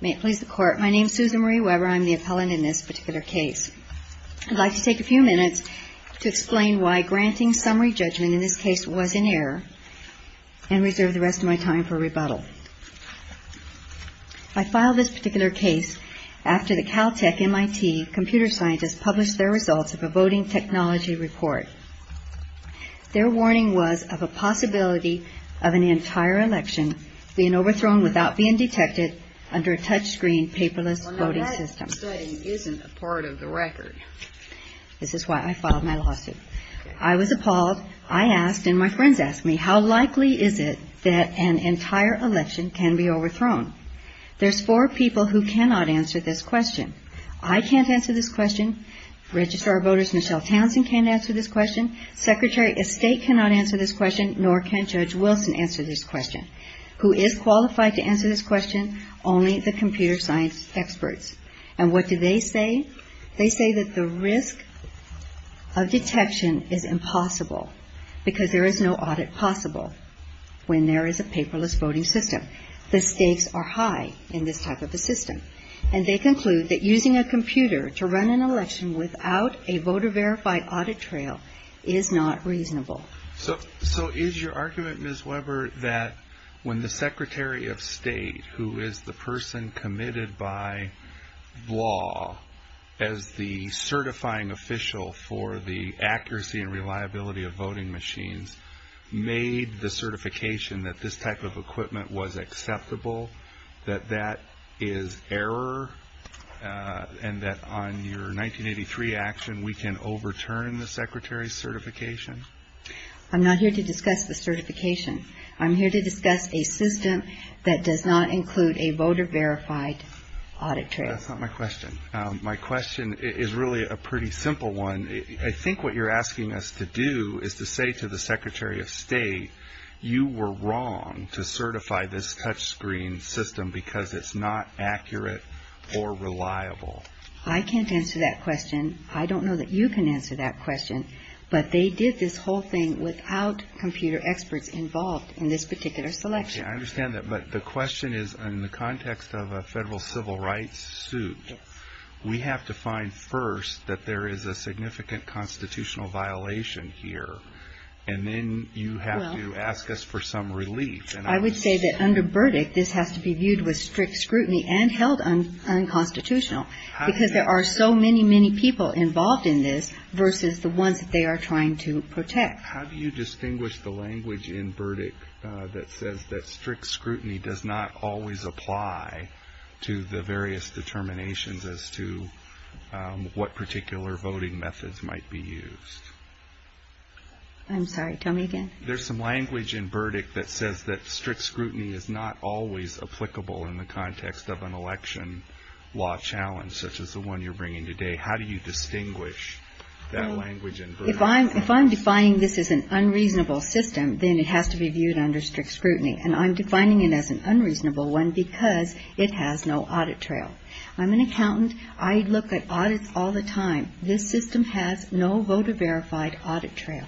May it please the court, my name is Susan Marie Weber, I am the appellant in this particular case. I'd like to take a few minutes to explain why granting summary judgment in this case was in error and reserve the rest of my time for rebuttal. I filed this particular case after the Caltech MIT computer scientists published their results of a voting technology report. Their warning was of a possibility of an entire election being overthrown without being detected under a touch screen paperless voting system. This is why I filed my lawsuit. I was appalled, I asked and my friends asked me, how likely is it that an entire election can be overthrown? There's four people who cannot answer this question. I can't answer this question, registrar voters, Michelle Townsend can't answer this question, Secretary of State cannot answer this question, nor can Judge Wilson answer this question. Who is qualified to answer this question? Only the computer science experts. And what do they say? They say that the risk of detection is impossible because there is no audit possible when there is a paperless voting system. The stakes are high in this type of a system. And they conclude that using a computer to run an election without a voter verified audit trail is not reasonable. So is your argument, Ms. Weber, that when the Secretary of State who is the person committed by law as the certifying official for the accuracy and reliability of voting machines made the certification that this type of equipment was acceptable, that that is error, and that on your 1983 action we can overturn the Secretary's certification? I'm not here to discuss the certification. I'm here to discuss a system that does not include a voter verified audit trail. That's not my question. My question is really a pretty simple one. I think what you're asking us to do is to say to the Secretary of State, you were wrong to certify this touchscreen system because it's not accurate or reliable. I can't answer that question. I don't know that you can answer that question. But they did this whole thing without computer experts involved in this particular selection. I understand that. But the question is in the context of a federal civil rights suit, we have to find first that there is a significant constitutional violation here, and then you have to ask us for some relief. I would say that under Burdick this has to be viewed with strict scrutiny and held unconstitutional because there are so many, many people involved in this versus the ones they are trying to protect. How do you distinguish the language in Burdick that says that strict scrutiny does not always apply to the various determinations as to what particular voting methods might be used? I'm sorry, tell me again. There's some language in Burdick that says that strict scrutiny is not always applicable in the context of an election law challenge such as the one you're bringing today. How do you distinguish that language in Burdick? If I'm defining this as an unreasonable system, then it has to be viewed under strict scrutiny. And I'm defining it as an unreasonable one because it has no audit trail. I'm an accountant. I look at audits all the time. This system has no voter verified audit trail.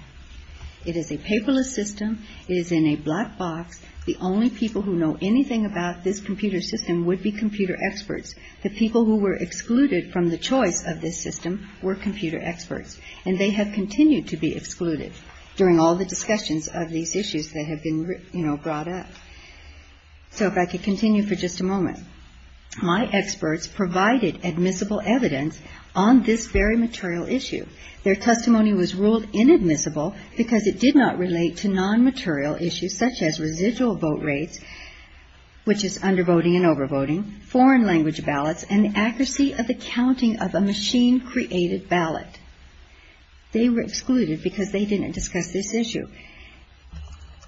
It is a paperless system. It is in a black box. The only people who know anything about this computer system would be computer experts. The people who were excluded from the choice of this system were computer experts. And they have continued to be excluded during all the discussions of these issues that have been brought up. So, if I could continue for just a moment. My experts provided admissible evidence on this very material issue. Their testimony was ruled inadmissible because it did not relate to non-material issues such as residual vote rates, which is under-voting and over-voting, foreign language ballots, and the accuracy of the counting of a machine-created ballot. They were excluded because they didn't discuss this issue.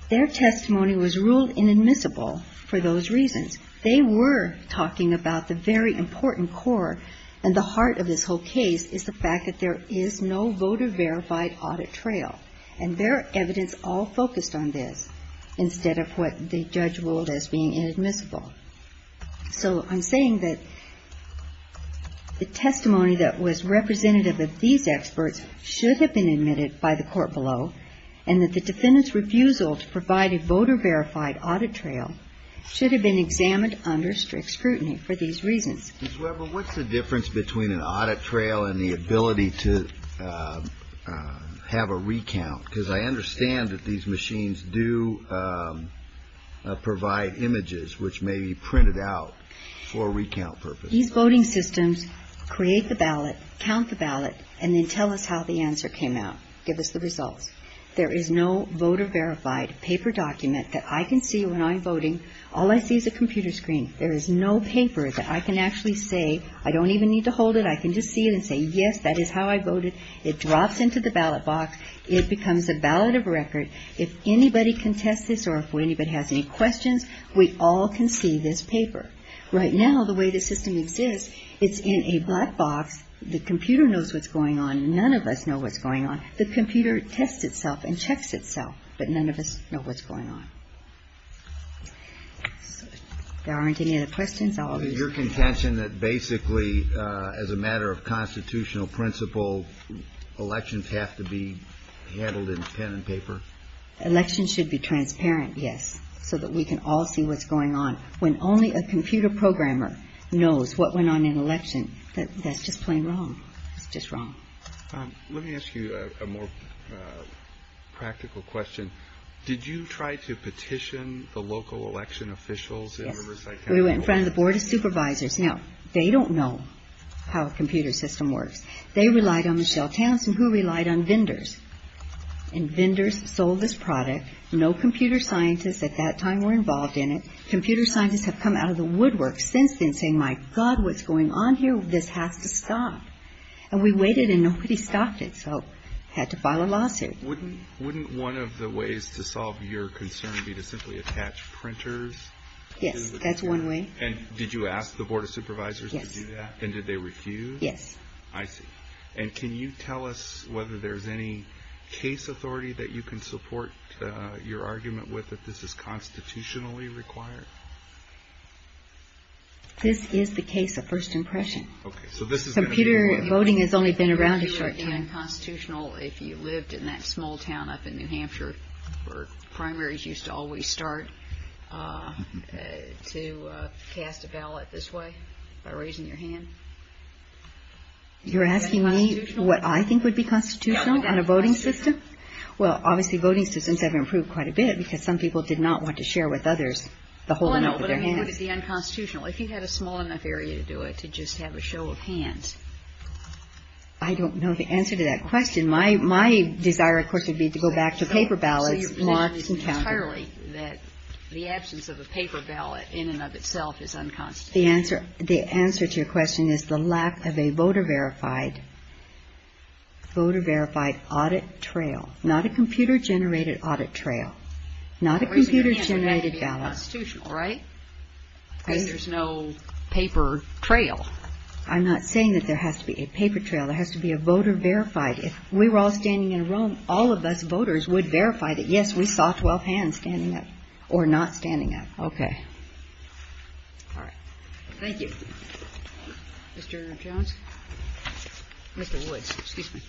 Their testimony was ruled inadmissible for those reasons. They were talking about the very important core and the heart of this whole case is the fact that there is no voter verified audit trail. And their evidence all focused on this instead of what the judge ruled as being inadmissible. So, I'm saying that the testimony that was representative of these experts should have been admitted by the court below. And that the defendant's refusal to provide a voter verified audit trail should have been examined under strict scrutiny for these reasons. Mr. Weber, what's the difference between an audit trail and the ability to have a recount? Because I understand that these machines do provide images which may be printed out for recount purposes. These voting systems create the ballot, count the ballot, and then tell us how the answer came out. Give us the result. There is no voter verified paper document that I can see when I'm voting. All I see is a computer screen. There is no paper that I can actually say, I don't even need to hold it. I can just see it and say, yes, that is how I voted. It drops into the ballot box. It becomes a ballot of record. If anybody contests this or if anybody has any questions, we all can see this paper. Right now, the way the system exists, it's in a black box. The computer knows what's going on. None of us know what's going on. The computer tests itself and checks itself. But none of us know what's going on. There aren't any other questions? Your contention that basically as a matter of constitutional principle, elections have to be handled in pen and paper? Elections should be transparent, yes, so that we can all see what's going on. When only a computer programmer knows what went on in an election, that's just plain wrong. Just wrong. Let me ask you a more practical question. Did you try to petition the local election officials in Riverside County? We went in front of the Board of Supervisors. Now, they don't know how a computer system works. They relied on Michelle Townsend, who relied on vendors. And vendors sold this product. No computer scientists at that time were involved in it. Computer scientists have come out of the woodwork since then saying, my God, what's going on here? This has to stop. And we waited and nobody stopped it. So we had to file a lawsuit. Wouldn't one of the ways to solve your concern be to simply attach printers? Yes, that's one way. And did you ask the Board of Supervisors to do that? Yes. And did they refuse? Yes. I see. And can you tell us whether there's any case authority that you can support your argument with that this is constitutionally required? This is the case of first impression. Computer voting has only been around a short time. Would it be unconstitutional if you lived in that small town up in New Hampshire where primaries used to always start to cast a ballot this way by raising your hand? You're asking me what I think would be constitutional on a voting system? Well, obviously voting systems have improved quite a bit because some people did not want to share with others the whole amount with their hands. Would it be unconstitutional if you had a small enough area to do it to just have a show of hands? I don't know the answer to that question. My desire, of course, would be to go back to paper ballots. Well, you've mentioned entirely that the absence of a paper ballot in and of itself is unconstitutional. The answer to your question is the lack of a voter-verified audit trail. Not a computer-generated audit trail. I'm not saying that there has to be a paper trail. There has to be a voter-verified. If we were all standing in a room, all of us voters would verify that, yes, we saw 12 hands standing up or not standing up. Okay. All right. Thank you. Mr. Jones? Mr. Woods. Excuse me.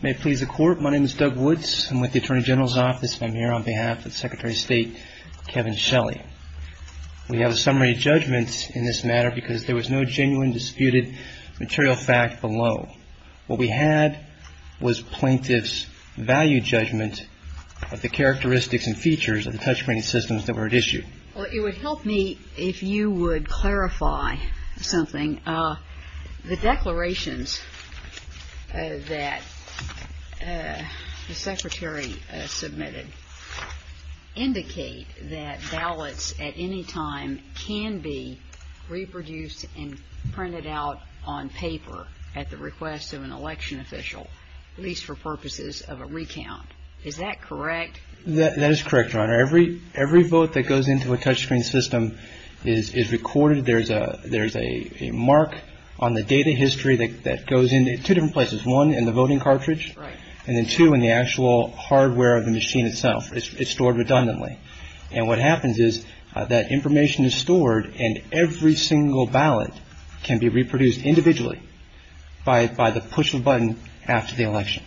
May it please the Court, my name is Doug Woods. I'm with the Attorney General's Office. I'm here on behalf of Secretary of State Kevin Shelley. We have a summary judgment in this matter because there was no genuine disputed material fact below. What we had was plaintiff's value judgment of the characteristics and features and touch-screening systems that were at issue. Well, it would help me if you would clarify something. The declarations that the Secretary submitted indicate that ballots at any time can be reproduced and printed out on paper at the request of an election official, at least for purposes of a recount. Is that correct? That is correct, Your Honor. Every vote that goes into a touch-screen system is recorded. There's a mark on the data history that goes in two different places, one in the voting cartridge and then two in the actual hardware of the machine itself. It's stored redundantly. And what happens is that information is stored and every single ballot can be reproduced individually by the push of a button after the election.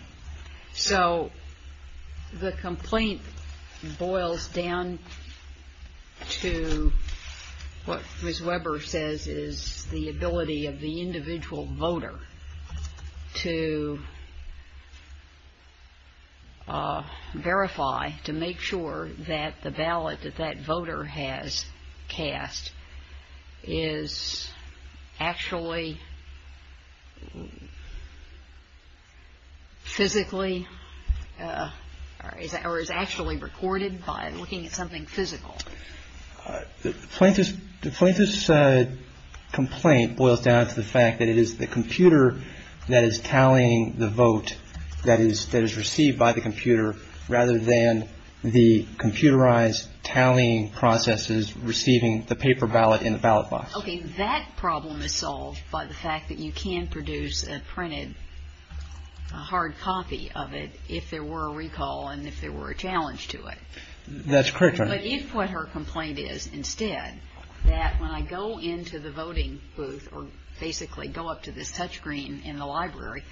So the complaint boils down to what Ms. Weber says is the ability of the individual voter to verify, to make sure that the ballot that that voter has cast is actually physically or is actually recorded by looking at something physical. The plaintiff's complaint boils down to the fact that it is the computer that is tallying the vote that is received by the computer rather than the computerized tallying processes receiving the paper ballot in the ballot box. Okay, that problem is solved by the fact that you can produce a printed, a hard copy of it if there were a recall and if there were a challenge to it. That's correct, Your Honor. But if what her complaint is instead that when I go into the voting booth or basically go up to this touch screen in the library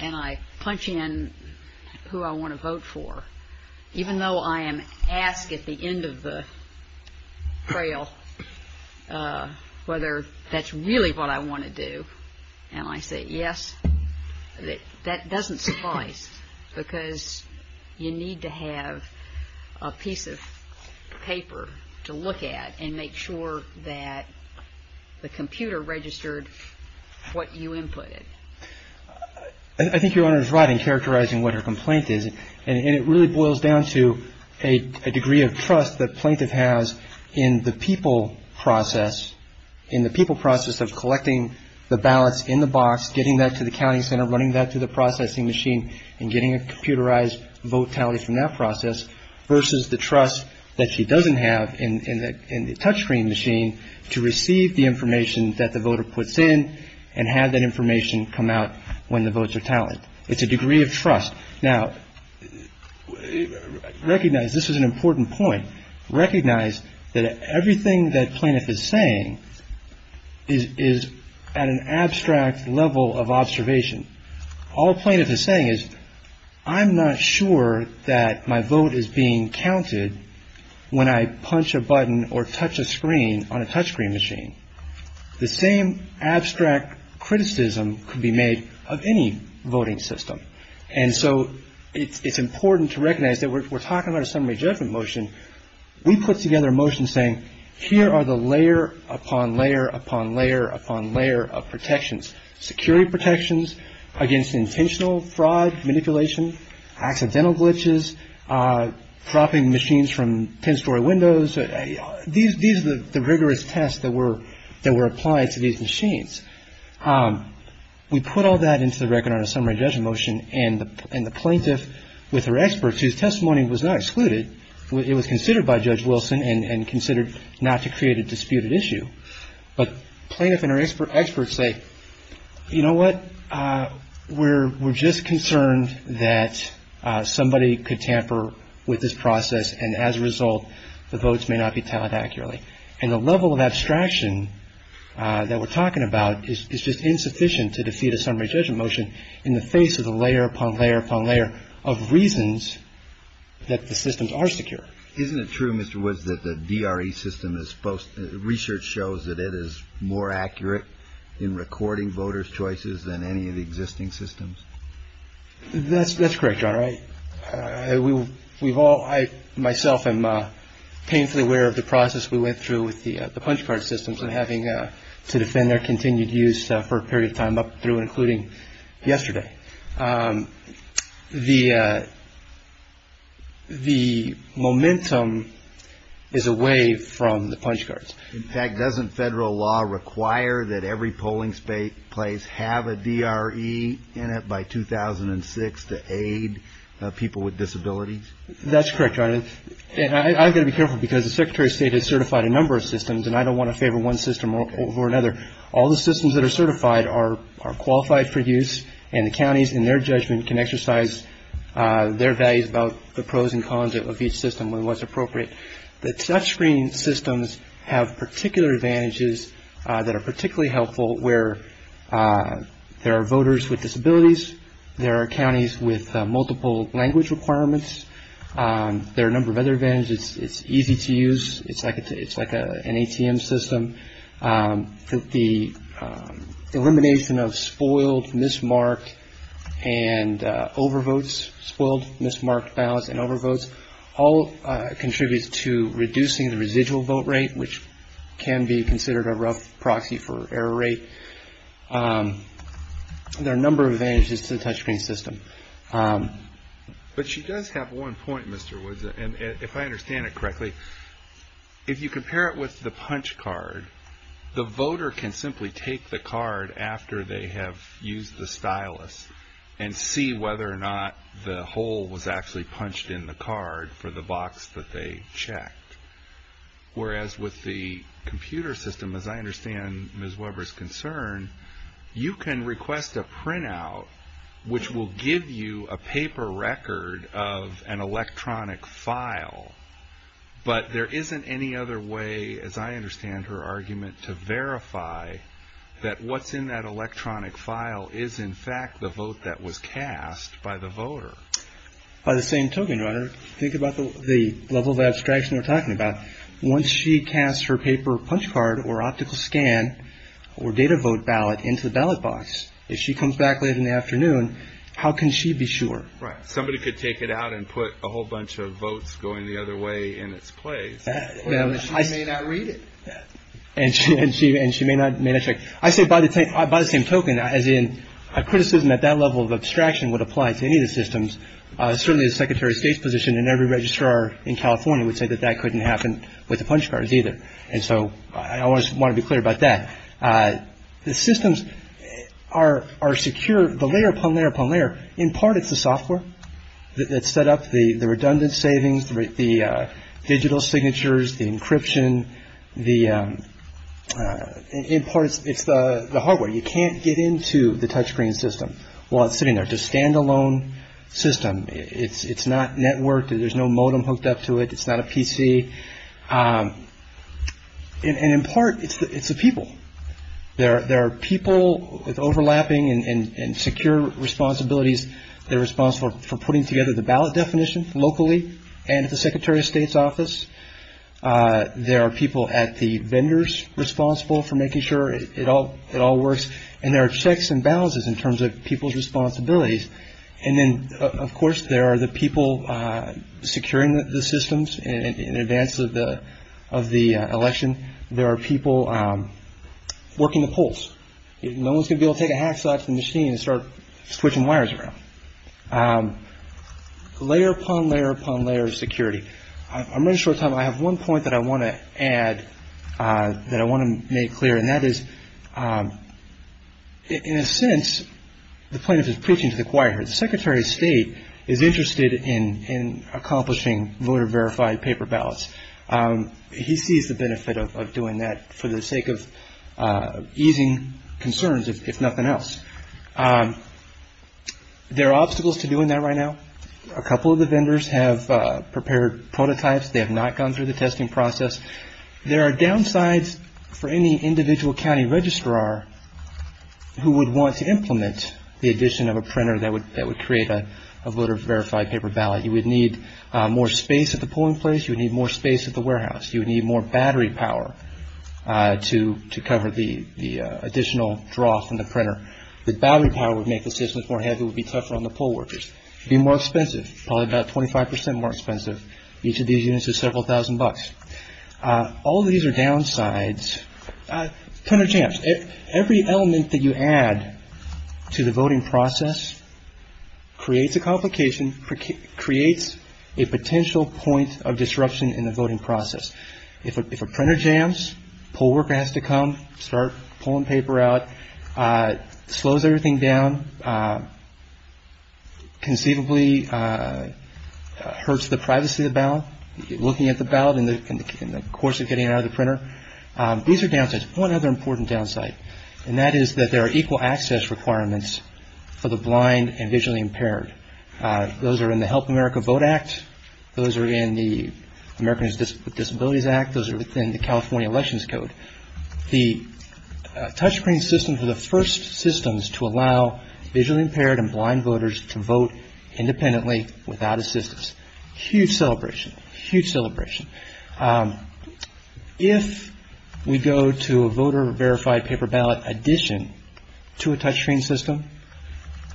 and I punch in who I want to vote for, even though I am asked at the end of the trail whether that's really what I want to do, and I say yes, that doesn't suffice because you need to have a piece of paper to look at and make sure that the computer registered what you inputted. I think Your Honor is right in characterizing what her complaint is and it really boils down to a degree of trust that plaintiff has in the people process, in the people process of collecting the ballots in the box, getting that to the counting center, running that through the processing machine and getting a computerized vote tallied from that process versus the trust that she doesn't have in the touch screen machine to receive the information that the voter puts in and have that information come out when the votes are tallied. It's a degree of trust. Now, recognize this is an important point. Recognize that everything that plaintiff is saying is at an abstract level of observation. All plaintiff is saying is I'm not sure that my vote is being counted when I punch a button or touch a screen on a touch screen machine. The same abstract criticism could be made of any voting system. And so it's important to recognize that we're talking about a summary judgment motion. We put together a motion saying here are the layer upon layer upon layer upon layer of protections, security protections against intentional fraud, manipulation, accidental glitches, propping machines from 10-story windows. These are the rigorous tests that were applied to these machines. We put all that into the record on a summary judgment motion and the plaintiff with her experts whose testimony was not excluded, it was considered by Judge Wilson and considered not to create a disputed issue. But plaintiff and her experts say, you know what, we're just concerned that somebody could tamper with this process and as a result the votes may not be tallied accurately. And the level of abstraction that we're talking about is just insufficient to defeat a summary judgment motion in the face of the layer upon layer upon layer of reasons that the systems are secure. Isn't it true, Mr. Woods, that the DRE system is supposed to, research shows that it is more accurate in recording voters' choices than any of the existing systems? That's correct, John. We've all, I myself am painfully aware of the process we went through with the punch card systems and having to defend their continued use for a period of time up through including yesterday. The momentum is away from the punch cards. In fact, doesn't federal law require that every polling place have a DRE in it by 2006 to aid people with disabilities? That's correct, John. And I've got to be careful because the Secretary of State has certified a number of systems and I don't want to favor one system over another. All the systems that are certified are qualified for use and the counties in their judgment can exercise their values about the pros and cons of each system when it's appropriate. The touchscreen systems have particular advantages that are particularly helpful where there are voters with disabilities. There are counties with multiple language requirements. There are a number of other advantages. It's easy to use. It's like an ATM system. The elimination of spoiled, mismarked, and overvotes, spoiled, mismarked, balanced, and overvotes, all contribute to reducing the residual vote rate which can be considered a rough proxy for error rate. There are a number of advantages to the touchscreen system. But she does have one point, Mr. Woods, and if I understand it correctly, if you compare it with the punch card, the voter can simply take the card after they have used the stylus and see whether or not the hole was actually punched in the card for the box that they checked. Whereas with the computer system, as I understand Ms. Weber's concern, you can request a printout which will give you a paper record of an electronic file, but there isn't any other way, as I understand her argument, to verify that what's in that electronic file is, in fact, the vote that was cast by the voter. By the same token, think about the level of abstraction we're talking about. Once she casts her paper punch card or optical scan or data vote ballot into the ballot box, if she comes back later in the afternoon, how can she be sure? Right. Somebody could take it out and put a whole bunch of votes going the other way in its place. She may not read it. And she may not check. I say by the same token, as in a criticism at that level of abstraction would apply to any of the systems. Certainly the Secretary of State's position in every registrar in California would say that that couldn't happen with the punch cards either. And so I always want to be clear about that. The systems are secure, the layer upon layer upon layer. In part, it's the software that set up the redundant savings, the digital signatures, the encryption. In part, it's the hardware. You can't get into the touchscreen system while it's sitting there. It's a standalone system. It's not networked. There's no modem hooked up to it. It's not a PC. And in part, it's the people. There are people overlapping and secure responsibilities. They're responsible for putting together the ballot definition locally and at the Secretary of State's office. There are people at the vendors responsible for making sure it all works. And there are checks and balances in terms of people's responsibilities. And then, of course, there are the people securing the systems in advance of the election. There are people working the polls. No one's going to be able to take a hacksaw out of the machine and start switching wires around. Layer upon layer upon layer is security. I'm running short on time. I have one point that I want to add that I want to make clear, and that is, in a sense, the plaintiff is preaching to the choir. The Secretary of State is interested in accomplishing voter-verified paper ballots. He sees the benefit of doing that for the sake of easing concerns, if nothing else. There are obstacles to doing that right now. A couple of the vendors have prepared prototypes. They have not gone through the testing process. There are downsides for any individual county registrar who would want to implement the addition of a printer that would create a voter-verified paper ballot. You would need more space at the polling place. You would need more space at the warehouse. You would need more battery power to cover the additional draw from the printer. The battery power would make the systems more heavy. It would be tougher on the poll workers. It would be more expensive, probably about 25 percent more expensive. Each of these units is several thousand bucks. All of these are downsides. Printer jams. Every element that you add to the voting process creates a complication, creates a potential point of disruption in the voting process. If a printer jams, poll worker has to come, start pulling paper out, slows everything down, conceivably hurts the privacy of the ballot, looking at the ballot in the course of getting it out of the printer. These are downsides. One other important downside, and that is that there are equal access requirements for the blind and visually impaired. Those are in the Help America Vote Act. Those are in the Americans with Disabilities Act. Those are within the California Elections Code. The touchscreen systems are the first systems to allow visually impaired and blind voters to vote independently without assistance. Huge celebration. Huge celebration. If we go to a voter verified paper ballot addition to a touchscreen system,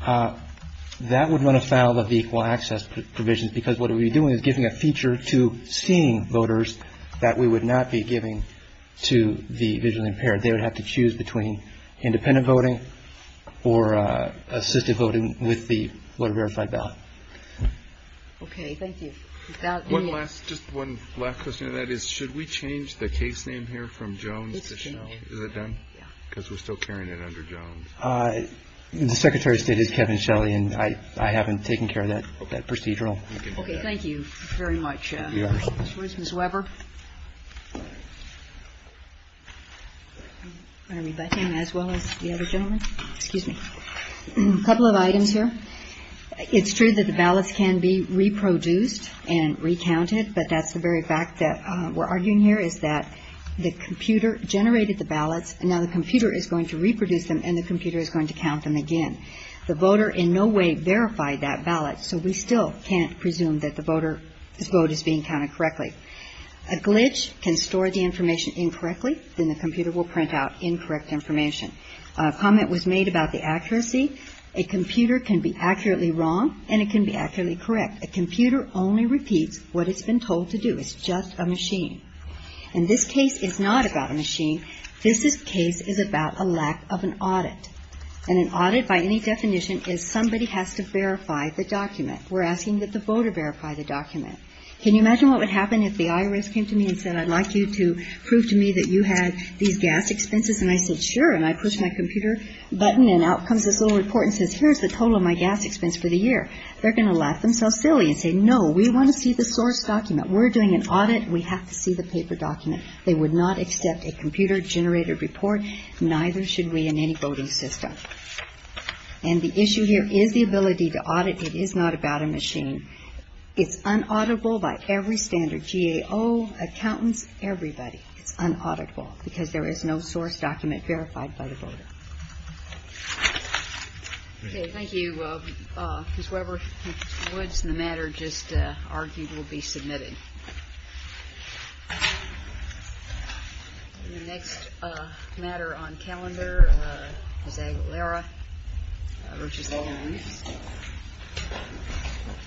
that would run afoul of the equal access provisions because what we would be doing is giving a feature to seeing voters that we would not be giving to the visually impaired. They would have to choose between independent voting or assisted voting with the voter verified ballot. Okay, thank you. Just one last question, and that is, should we change the case name here from Jones to Shelley? Is it done? Because we're still carrying it under Jones. The Secretary stated Kevin Shelley, and I haven't taken care of that procedural. Okay, thank you very much. Ms. Weber? I mean, if I can, as well as the other gentlemen. Excuse me. A couple of items here. It's true that the ballots can be reproduced and recounted, but that's the very fact that we're arguing here is that the computer generated the ballots, and now the computer is going to reproduce them, and the computer is going to count them again. The voter in no way verified that ballot, so we still can't presume that the vote is being counted correctly. A glitch can store the information incorrectly, and the computer will print out incorrect information. A comment was made about the accuracy. In this case, a computer can be accurately wrong, and it can be accurately correct. A computer only repeats what it's been told to do. It's just a machine. And this case is not about a machine. This case is about a lack of an audit. And an audit, by any definition, is somebody has to verify the document. We're asking that the voter verify the document. Can you imagine what would happen if the IRS came to me and said, I'd like you to prove to me that you had these gas expenses? And I said, sure, and I pushed my computer button, and out comes this little report and says, here's the total of my gas expense for the year. They're going to laugh themselves silly and say, no, we want to see the source document. We're doing an audit, and we have to see the paper document. They would not accept a computer-generated report, neither should we in any voting system. And the issue here is the ability to audit. It is not about a machine. It's un-auditable by every standard, GAO, accountants, everybody. It's un-auditable because there is no source document verified by the voter. Okay, thank you, Ms. Weber. Ms. Woods, the matter just argued will be submitted. The next matter on calendar is Aguilera v. All of These.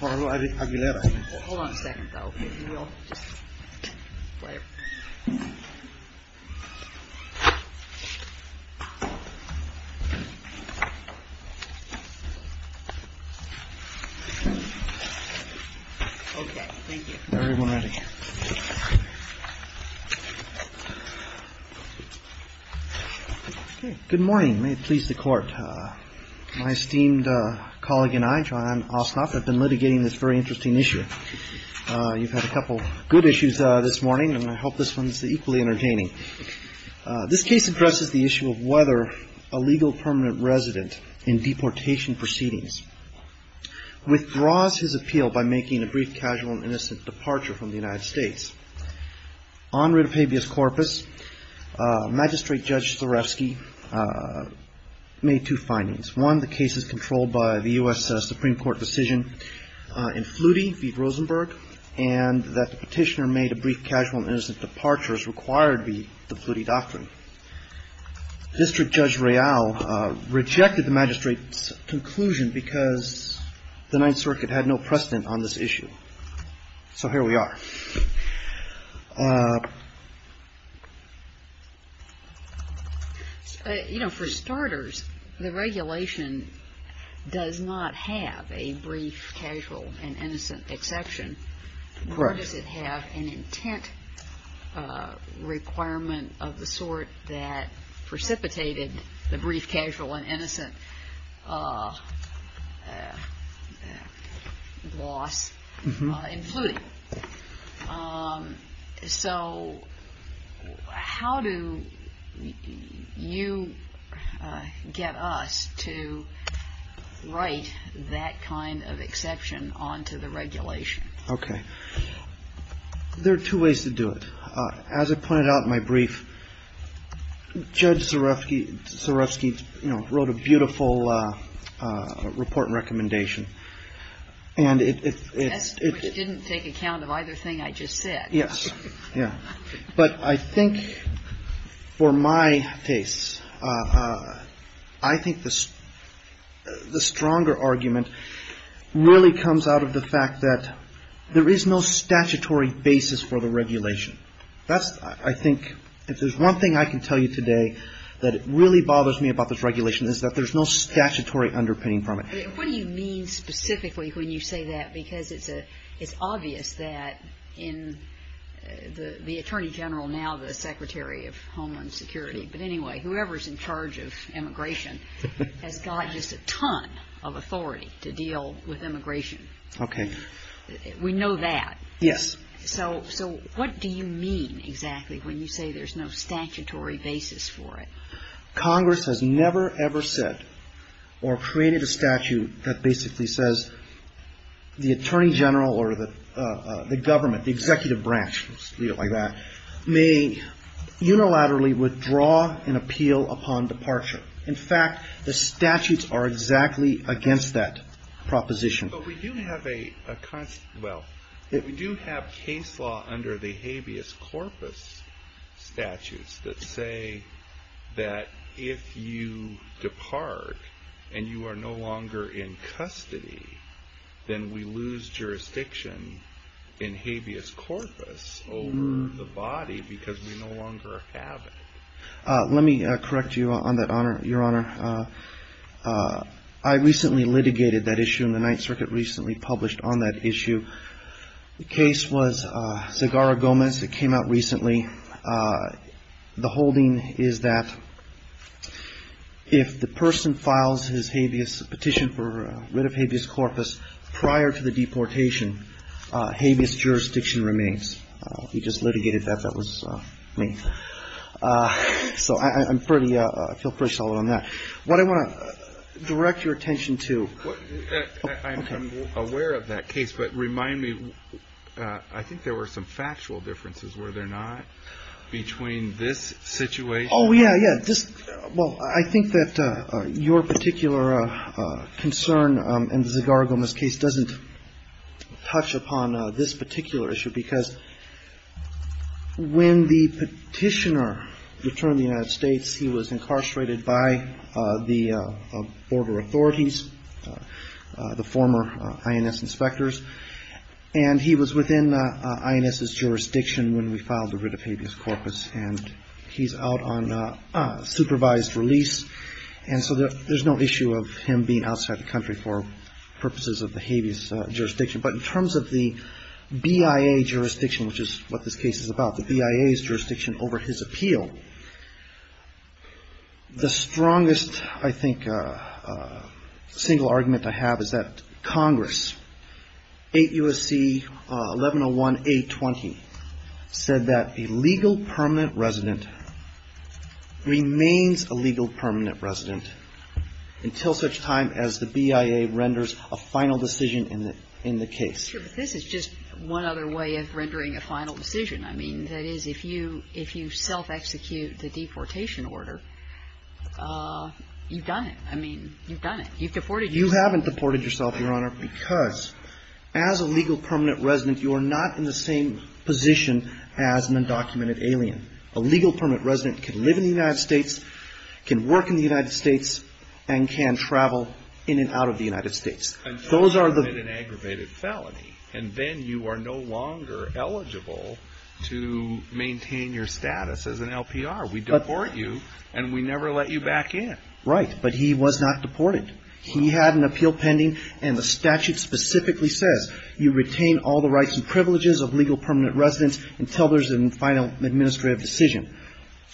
Hello, Aguilera. Okay, thank you. Good morning. May it please the court. My esteemed colleague and I, John Osnoff, have been litigating this very interesting issue. You've had a couple good issues this morning, and I hope this one is equally entertaining. This case addresses the issue of whether a legal permanent resident in deportation proceedings withdraws his appeal by making a brief, casual, and innocent departure from the United States. On writ of habeas corpus, Magistrate Judge Sloreski made two findings. One, the case is controlled by the U.S. Supreme Court decision in Flutie v. Rosenberg, and that the petitioner made a brief, casual, and innocent departure as required by the Flutie doctrine. District Judge Real rejected the magistrate's conclusion because the Ninth Circuit had no precedent on this issue. So here we are. You know, for starters, the regulation does not have a brief, casual, and innocent exception. Right. Does it have an intent requirement of the sort that precipitated the brief, casual, and innocent loss in Flutie? So how do you get us to write that kind of exception onto the regulation? Okay. There are two ways to do it. As I pointed out in my brief, Judge Sloreski, you know, wrote a beautiful report and recommendation. That didn't take account of either thing I just said. Yes. Yeah. But I think for my case, I think the stronger argument really comes out of the fact that there is no statutory basis for the regulation. That's, I think, if there's one thing I can tell you today that really bothers me about this regulation is that there's no statutory underpinning from it. What do you mean specifically when you say that? Because it's obvious that the Attorney General, now the Secretary of Homeland Security, but anyway, whoever's in charge of immigration has got just a ton of authority to deal with immigration. Okay. We know that. Yes. So what do you mean exactly when you say there's no statutory basis for it? Congress has never, ever said or created a statute that basically says the Attorney General or the government, the executive branch, you know, like that, may unilaterally withdraw an appeal upon departure. In fact, the statutes are exactly against that proposition. But we do have a, well, we do have case law under the habeas corpus statutes that say that if you depart and you are no longer in custody, then we lose jurisdiction in habeas corpus over the body because we no longer have it. Let me correct you on that, Your Honor. I recently litigated that issue and the Ninth Circuit recently published on that issue. The case was Zegara-Gomez. It came out recently. The holding is that if the person files his habeas petition for writ of habeas corpus prior to the deportation, habeas jurisdiction remains. He just litigated that. That was me. So I'm fairly, I feel pretty solid on that. What I want to direct your attention to. I'm aware of that case, but remind me, I think there were some factual differences, were there not, between this situation? Oh, yeah, yeah. I think that your particular concern in Zegara-Gomez's case doesn't touch upon this particular issue because when the petitioner returned to the United States, he was incarcerated by the border authorities, the former INS inspectors, and he was within INS's jurisdiction when we filed the writ of habeas corpus, and he's out on supervised release, and so there's no issue of him being outside the country for purposes of the habeas jurisdiction. But in terms of the BIA jurisdiction, which is what this case is about, the BIA's jurisdiction over his appeal, the strongest, I think, single argument to have is that Congress, 8 U.S.C. 1101 A-20, said that a legal permanent resident remains a legal permanent resident until such time as the BIA renders a final decision in the case. Sure, but this is just one other way of rendering a final decision. I mean, that is, if you self-execute the deportation order, you've done it. I mean, you've done it. You've deported yourself. You haven't deported yourself, Your Honor, because as a legal permanent resident, you are not in the same position as an undocumented alien. A legal permanent resident can live in the United States, can work in the United States, and can travel in and out of the United States. Until you commit an aggravated felony, and then you are no longer eligible to maintain your status as an LPR. We deport you, and we never let you back in. Right, but he was not deported. He had an appeal pending, and the statute specifically says you retain all the rights and privileges of legal permanent residents until there's a final administrative decision.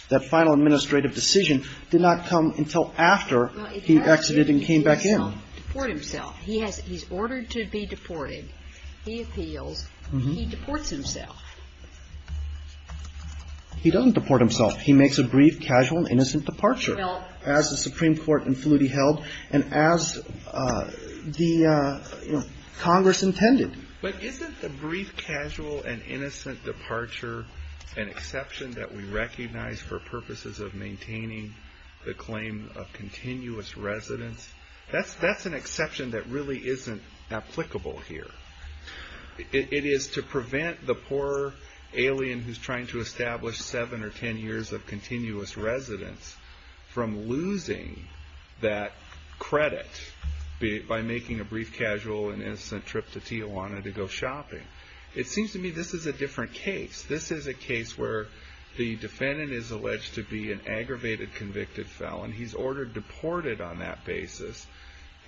That final administrative decision did not come until after he exited and came back in. He didn't deport himself. He's ordered to be deported. He appealed. He deports himself. He doesn't deport himself. He makes a brief, casual, and innocent departure, as the Supreme Court included held, and as the Congress intended. But isn't the brief, casual, and innocent departure an exception that we recognize for purposes of maintaining the claim of continuous residence? That's an exception that really isn't applicable here. It is to prevent the poor alien who's trying to establish seven or ten years of continuous residence from losing that credit by making a brief, casual, and innocent trip to Tijuana to go shopping. It seems to me this is a different case. This is a case where the defendant is alleged to be an aggravated convicted felon. He's ordered deported on that basis,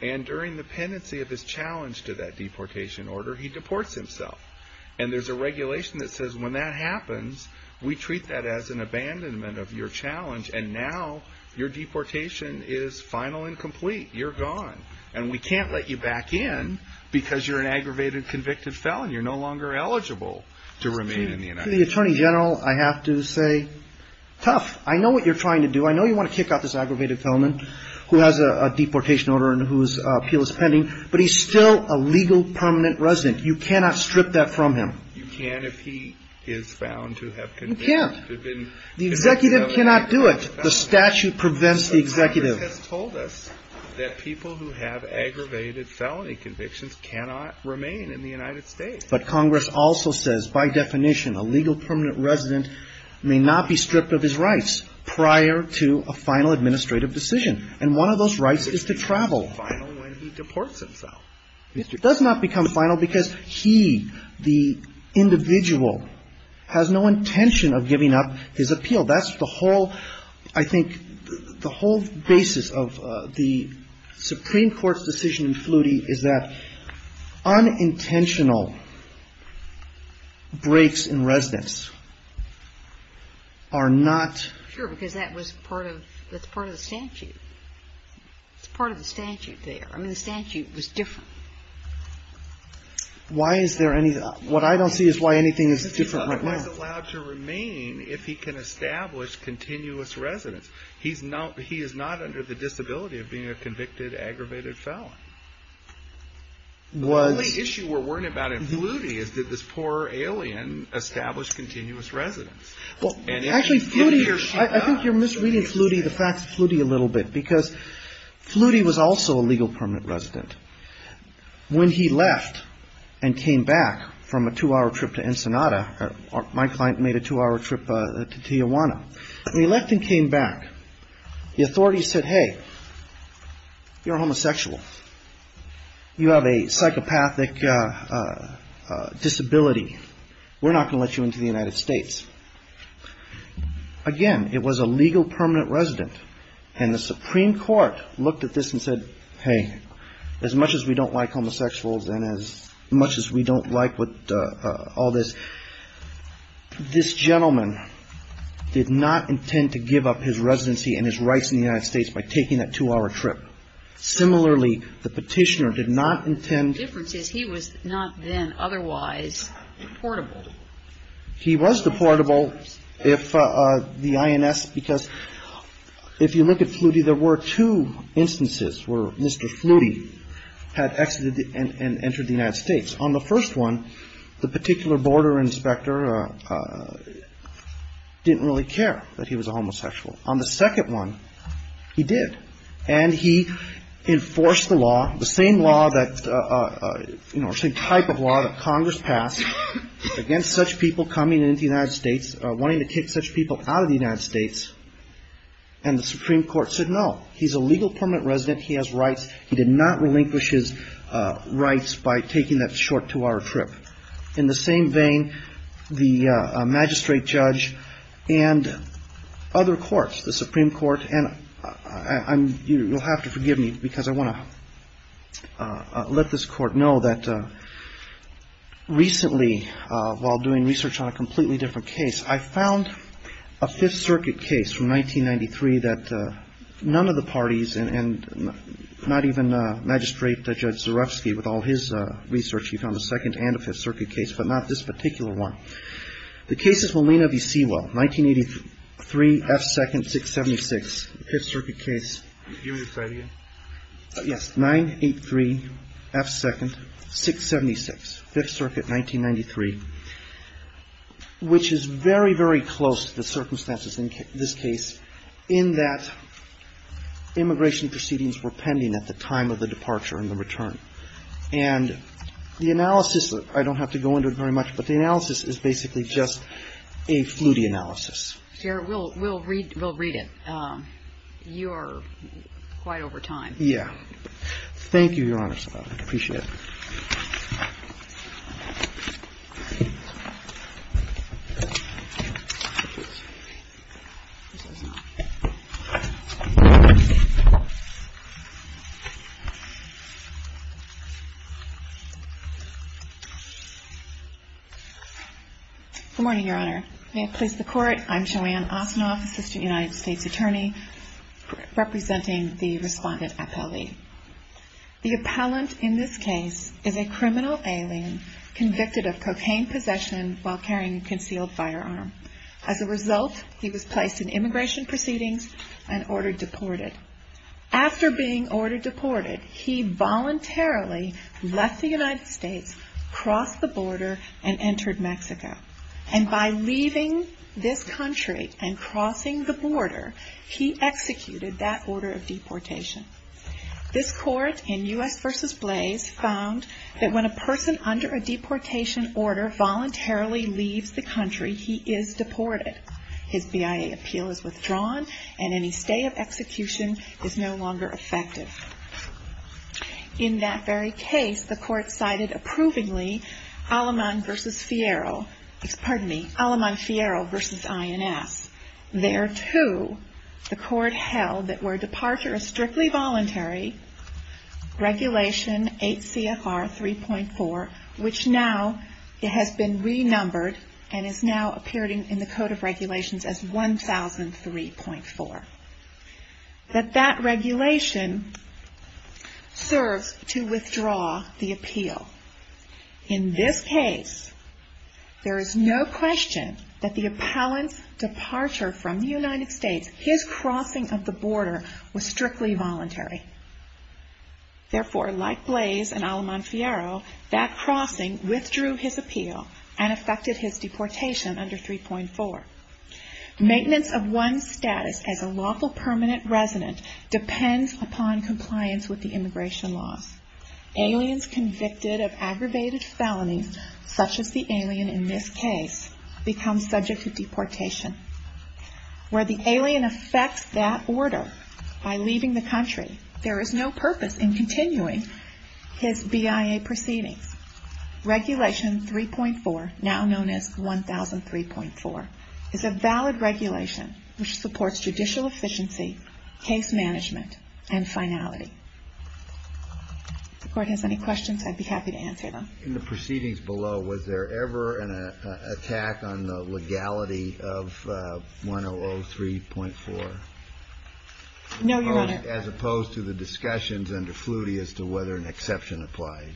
and during the pendency of his challenge to that deportation order, he deports himself. And there's a regulation that says when that happens, we treat that as an abandonment of your challenge, and now your deportation is final and complete. You're gone, and we can't let you back in because you're an aggravated convicted felon. You're no longer eligible to remain in the United States. To the Attorney General, I have to say, tough. I know what you're trying to do. I know you want to kick out this aggravated felon who has a deportation order and whose appeal is pending, but he's still a legal permanent resident. You cannot strip that from him. You can if he is found to have been convicted. You can. The executive cannot do it. The statute prevents the executive. Congress has told us that people who have aggravated felony convictions cannot remain in the United States. But Congress also says, by definition, a legal permanent resident may not be stripped of his rights prior to a final administrative decision. And one of those rights is to travel. When he deports himself. It does not become final because he, the individual, has no intention of giving up his appeal. That's the whole, I think, the whole basis of the Supreme Court's decision in Flutie is that unintentional breaks in residence are not. Sure, because that was part of, that's part of the statute. It's part of the statute there. I mean, the statute was different. Why is there any, what I don't see is why anything is different right now. He's not allowed to remain if he can establish continuous residence. He's not, he is not under the disability of being a convicted aggravated felon. The only issue we're worrying about in Flutie is that this poor alien established continuous residence. Actually, I think you're misreading the fact of Flutie a little bit. Because Flutie was also a legal permanent resident. When he left and came back from a two-hour trip to Ensenada, my client made a two-hour trip to Tijuana. When he left and came back, the authorities said, hey, you're a homosexual. You have a psychopathic disability. We're not going to let you into the United States. Again, it was a legal permanent resident. And the Supreme Court looked at this and said, hey, as much as we don't like homosexuals and as much as we don't like all this, this gentleman did not intend to give up his residency and his rights in the United States by taking that two-hour trip. Similarly, the petitioner did not intend... The difference is he was not then otherwise deportable. He was deportable if the INS... Because if you look at Flutie, there were two instances where Mr. Flutie had exited and entered the United States. On the first one, the particular border inspector didn't really care that he was a homosexual. On the second one, he did. And he enforced the law, the same law that... The same type of law that Congress passed against such people coming into the United States, wanting to take such people out of the United States, and the Supreme Court said no. He's a legal permanent resident. He has rights. He did not relinquish his rights by taking that short two-hour trip. In the same vein, the magistrate judge and other courts, the Supreme Court, and you'll have to forgive me because I want to let this court know that recently, while doing research on a completely different case, I found a Fifth Circuit case from 1993 that none of the parties, and not even Magistrate Judge Zarefsky with all his research, he found a Second and a Fifth Circuit case, but not this particular one. The case is Molina v. Sewell, 1983, F. 2nd, 676. Fifth Circuit case. Yes, 983, F. 2nd, 676. Fifth Circuit, 1993. Which is very, very close, the circumstances in this case, in that immigration proceedings were pending at the time of the departure and the return. And the analysis, I don't have to go into it very much, but the analysis is basically just a fluity analysis. We'll read it. You're quite over time. Yeah. Thank you, Your Honor. I appreciate it. Good morning, Your Honor. May it please the Court, I'm Joanne Offenhoff, Assistant United States Attorney, representing the respondent appellee. The appellant in this case is a criminal alien, convicted of cocaine possession while carrying a concealed firearm. As a result, he was placed in immigration proceedings and ordered deported. After being ordered deported, he voluntarily left the United States, crossed the border, and entered Mexico. And by leaving this country and crossing the border, he executed that order of deportation. This court, in U.S. v. Blaze, found that when a person under a deportation order voluntarily leaves the country, His BIA appeal is withdrawn, and any stay of execution is no longer effective. In that very case, the court cited approvingly Alamon v. Fierro. Pardon me. Alamon Fierro v. INF. There, too, the court held that where departure is strictly voluntary, Regulation 8 CFR 3.4, which now has been renumbered and is now appearing in the Code of Regulations as 1003.4. But that regulation served to withdraw the appeal. In this case, there is no question that the appellant's departure from the United States, his crossing of the border, was strictly voluntary. Therefore, like Blaze and Alamon Fierro, that crossing withdrew his appeal and effected his deportation under 3.4. Maintenance of one's status as a lawful permanent resident depends upon compliance with the immigration law. Aliens convicted of aggravated felonies, such as the alien in this case, become subject to deportation. Where the alien effects that order by leaving the country, there is no purpose in continuing his BIA proceeding. Regulation 3.4, now known as 1003.4, is a valid regulation which supports judicial efficiency, case management, and finality. If the court has any questions, I'd be happy to answer them. In the proceedings below, was there ever an attack on the legality of 1003.4? No, Your Honor. As opposed to the discussions under Flutie as to whether an exception applies.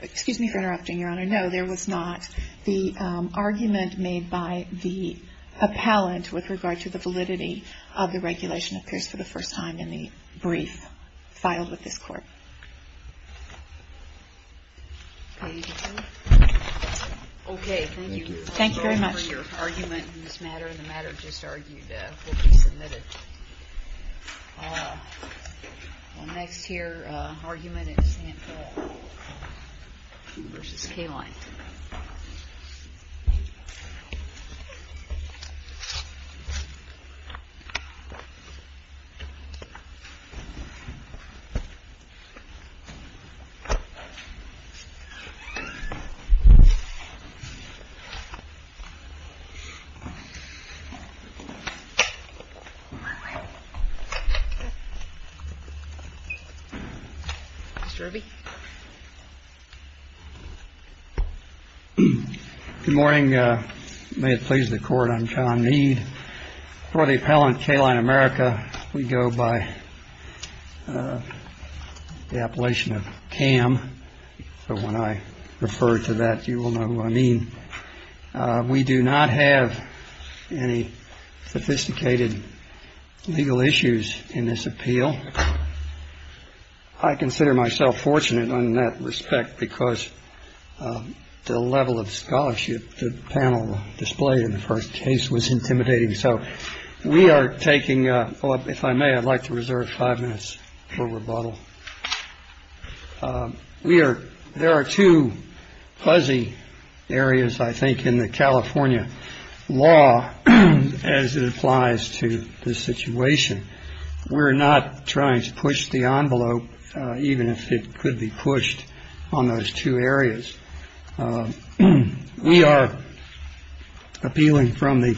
Excuse me for interrupting, Your Honor. No, there was not. The argument made by the appellant with regard to the validity of the regulation appears for the first time in the brief filed with this court. Okay, thank you. Thank you very much. I'm sorry for your argument in this matter. The matter just argued will be submitted. All right. The next here argument is Hansel v. Kayline. Mr. Irving? Good morning. May it please the Court, I'm Tom Mead. For the appellant, Kayline America, we go by the appellation of CAM. So when I refer to that, you will know what I mean. We do not have any sophisticated legal issues in this appeal. I consider myself fortunate in that respect because the level of scholarship the panel displayed in the first case was intimidating. So we are taking up, if I may, I'd like to reserve five minutes for rebuttal. We are there are two fuzzy areas, I think, in the California law as it applies to this situation. We're not trying to push the envelope, even if it could be pushed on those two areas. We are appealing from the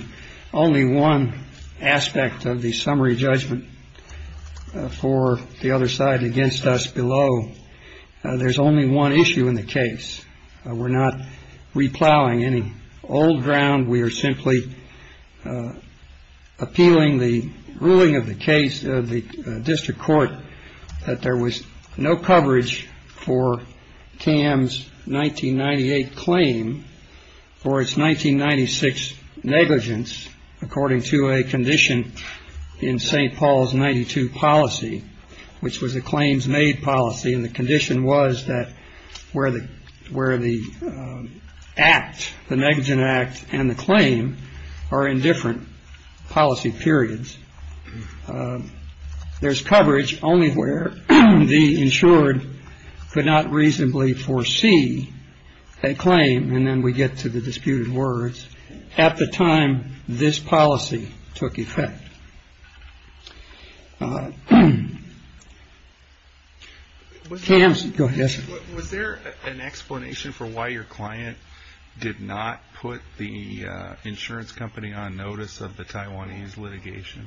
only one aspect of the summary judgment for the other side against us below. There's only one issue in the case. We're not replowing any old ground. We are simply appealing the ruling of the case of the district court that there was no coverage for CAM's 1998 claim for its 1996 negligence, according to a condition in St. Paul's 92 policy, which was a claims made policy. And the condition was that where the where the act, the negligence act and the claim are in different policy periods. There's coverage only where the insured could not reasonably foresee a claim. And then we get to the disputed words at the time this policy took effect. Was there an explanation for why your client did not put the insurance company on notice of the Taiwanese litigation?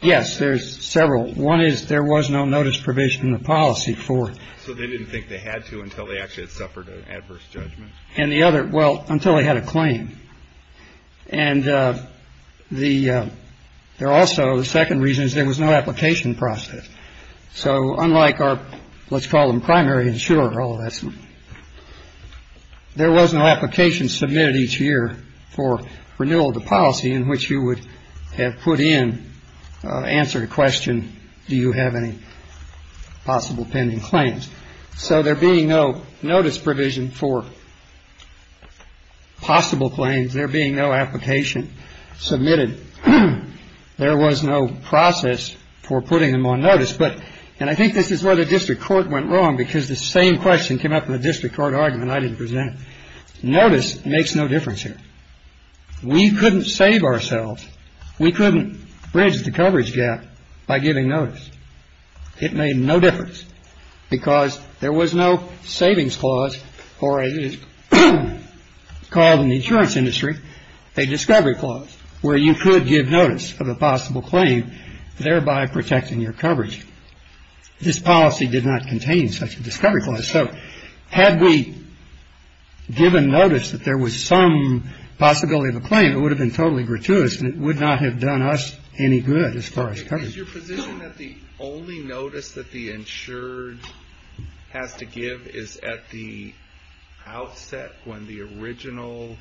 Yes, there's several. One is there was no notice provision in the policy for. So they didn't think they had to until they actually suffered an adverse judgment. And the other. Well, until they had a claim. And the they're also the second reason is there was no application process. So unlike our let's call them primary insurer. There was no application submitted each year for renewal of the policy in which you would have put in answer to question. Do you have any possible pending claims? So there being no notice provision for possible claims, there being no application submitted. There was no process for putting them on notice. But and I think this is where the district court went wrong because the same question came up in the district court argument. I didn't present notice makes no difference here. We couldn't save ourselves. We couldn't bridge the coverage gap by giving notice. It made no difference because there was no savings clause for a cause in the insurance industry. A discovery clause where you could give notice of a possible claim, thereby protecting your coverage. This policy did not contain such a discovery clause. So had we given notice that there was some possibility of a claim, it would have been totally gratuitous and it would not have done us any good as far as coverage. Is your position that the only notice that the insured have to give is at the outset when the original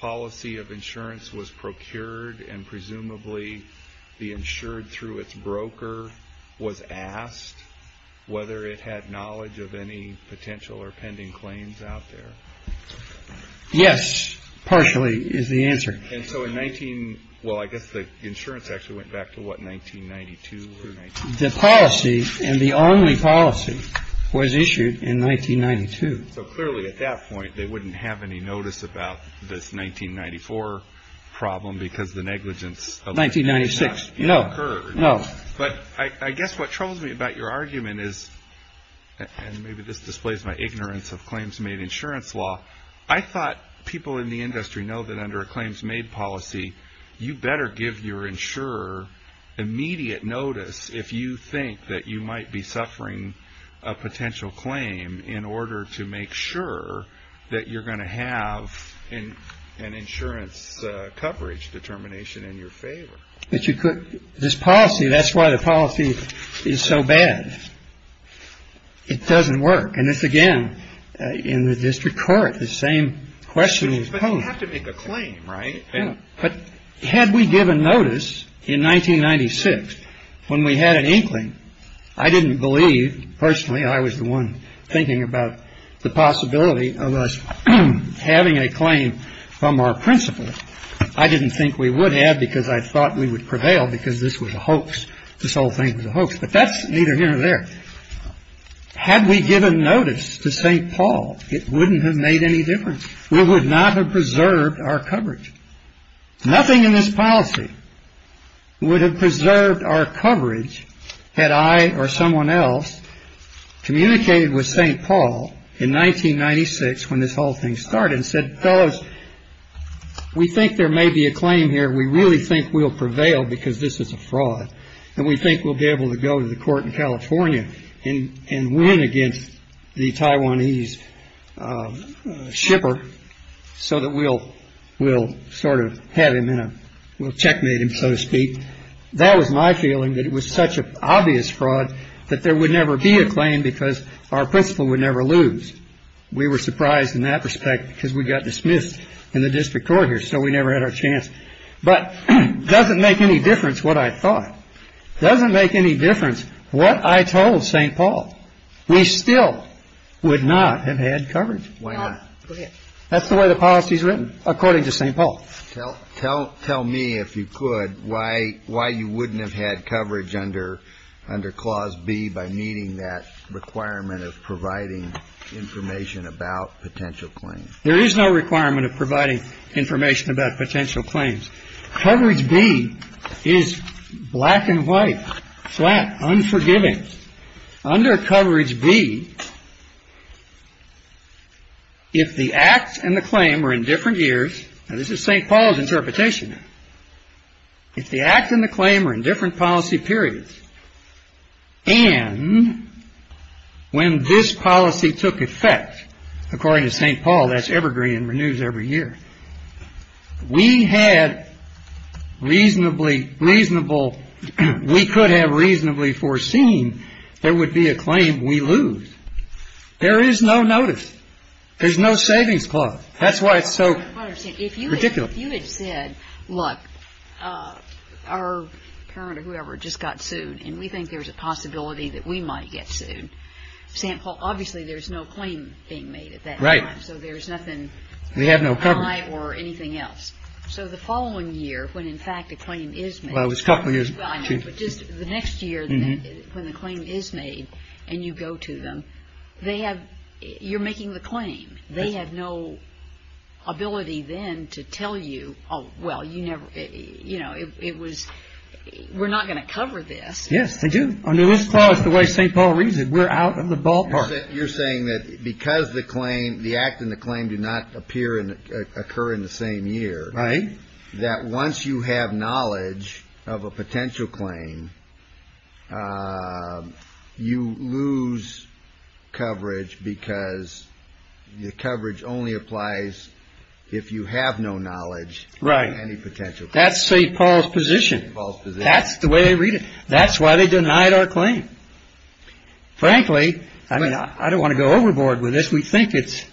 policy of insurance was procured and presumably the insured through its broker was asked whether it had knowledge of any potential or pending claims out there? Yes, partially is the answer. And so in 19, well, I guess the insurance actually went back to what, 1992? The policy and the only policy was issued in 1992. So clearly at that point they wouldn't have any notice about this 1994 problem because the negligence of 1996 occurred. But I guess what troubles me about your argument is, and maybe this displays my ignorance of claims made insurance law, I thought people in the industry know that under a claims made policy, you better give your insurer immediate notice if you think that you might be suffering a potential claim in order to make sure that you're going to have an insurance coverage determination in your favor. This policy, that's why the policy is so bad. It doesn't work. And it's, again, in the district court, the same question was posed. But you have to make a claim, right? But had we given notice in 1996 when we had an inkling, I didn't believe, personally, I was the one thinking about the possibility of us having a claim from our principal. I didn't think we would have because I thought we would prevail because this was a hoax. This whole thing was a hoax. But that's neither here nor there. Had we given notice to St. Paul, it wouldn't have made any difference. We would not have preserved our coverage. Nothing in this policy would have preserved our coverage had I or someone else communicated with St. Paul in 1996 when this whole thing started and said, fellas, we think there may be a claim here. We really think we'll prevail because this is a fraud. And we think we'll be able to go to the court in California and win against the Taiwanese shipper so that we'll sort of have him in a, we'll checkmate him, so to speak. That was my feeling, that it was such an obvious fraud that there would never be a claim because our principal would never lose. We were surprised in that respect because we got dismissed in the district court here, so we never had our chance. But it doesn't make any difference what I thought. It doesn't make any difference what I told St. Paul. We still would not have had coverage. Why not? That's the way the policy is written, according to St. Paul. Tell me, if you could, why you wouldn't have had coverage under Clause B by meeting that requirement of providing information about potential claims. There is no requirement of providing information about potential claims. Coverage B is black and white, flat, unforgiving. Under Coverage B, if the act and the claim are in different years, and this is St. Paul's interpretation, if the act and the claim are in different policy periods, and when this policy took effect, according to St. Paul, that's evergreen and renews every year, we had reasonably, reasonable, we could have reasonably foreseen there would be a claim we lose. There is no notice. There's no savings clause. That's why it's so ridiculous. If you had said, look, our current or whoever just got sued, and we think there's a possibility that we might get sued, St. Paul, obviously there's no claim being made at that time. Right. So there's nothing. We had no coverage. Or anything else. So the following year, when in fact the claim is made. Well, it was a couple years. I know, but just the next year when the claim is made and you go to them, they have, you're making the claim. They have no ability then to tell you, oh, well, you never, you know, it was, we're not going to cover this. Yes, they do. I mean, let's follow the way St. Paul reads it. We're out in the ballpark. You're saying that because the claim, the act and the claim do not appear and occur in the same year. Right. You're saying that once you have knowledge of a potential claim, you lose coverage because the coverage only applies if you have no knowledge. Right. That's St. Paul's position. That's the way they read it. That's why they denied our claim. Frankly, I mean, I don't want to go overboard with this. We think it's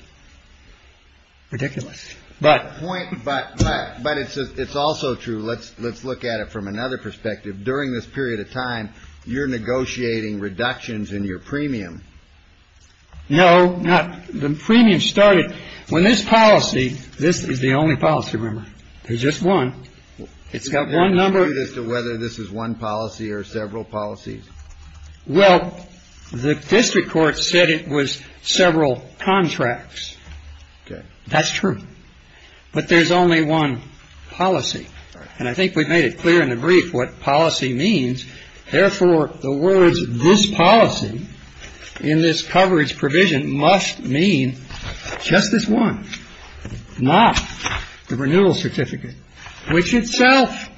ridiculous. But it's also true. Let's look at it from another perspective. During this period of time, you're negotiating reductions in your premium. No. The premium started when this policy, this is the only policy, remember. There's just one. It's got one number. Can you dispute as to whether this is one policy or several policies? Well, the district court said it was several contracts. That's true. But there's only one policy. And I think we've made it clear in the brief what policy means. Therefore, the words this policy in this coverage provision must mean just this one, not the renewal certificate, which itself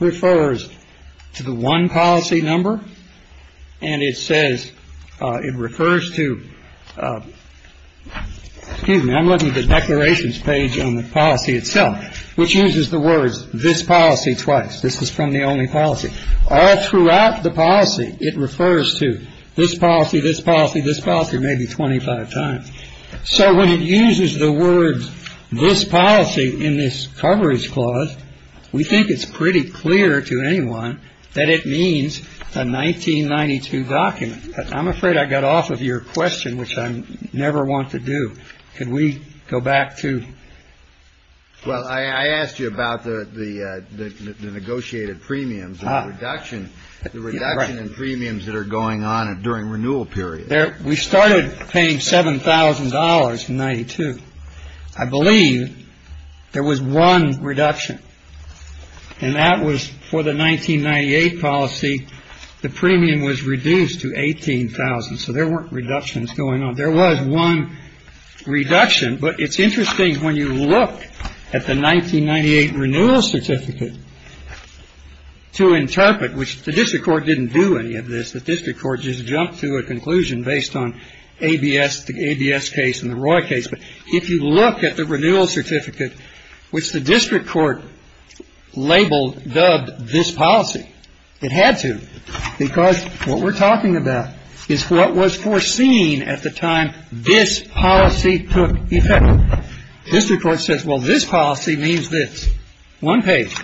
refers to the one policy number. And it says, it refers to, excuse me, I'm looking at the declarations page on the policy itself, which uses the words this policy twice. This is from the only policy. All throughout the policy, it refers to this policy, this policy, this policy maybe 25 times. So when it uses the words this policy in this coverage clause, we think it's pretty clear to anyone that it means a 1992 document. I'm afraid I got off of your question, which I never want to do. Can we go back to? Well, I asked you about the negotiated premiums, the reduction in premiums that are going on during renewal period. We started paying $7,000 in 1992. I believe there was one reduction. And that was for the 1998 policy. The premium was reduced to $18,000. So there weren't reductions going on. There was one reduction. But it's interesting when you look at the 1998 renewal certificate to interpret, which the district court didn't do any of this. The district court just jumped to a conclusion based on ABS case and the Roy case. But if you look at the renewal certificate, which the district court labeled, dubbed this policy, it had to. Because what we're talking about is what was foreseen at the time this policy took effect. This report says, well, this policy means this. One page.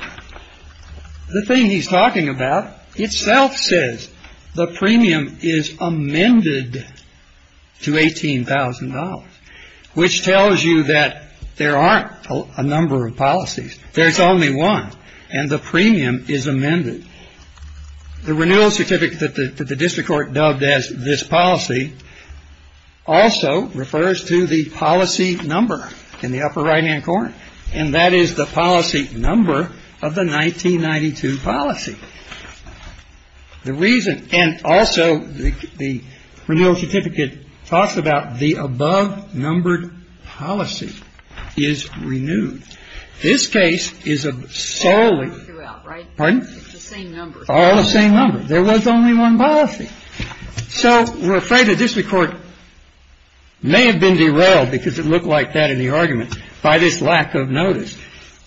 The thing he's talking about itself says the premium is amended to $18,000, which tells you that there aren't a number of policies. There's only one. And the premium is amended. The renewal certificate that the district court dubbed as this policy also refers to the policy number in the upper right-hand corner. And that is the policy number of the 1992 policy. And also, the renewal certificate talks about the above-numbered policy is renewed. This case is solely the same number. There was only one policy. So, we're afraid the district court may have been derailed because it looked like that in the argument by this lack of notice.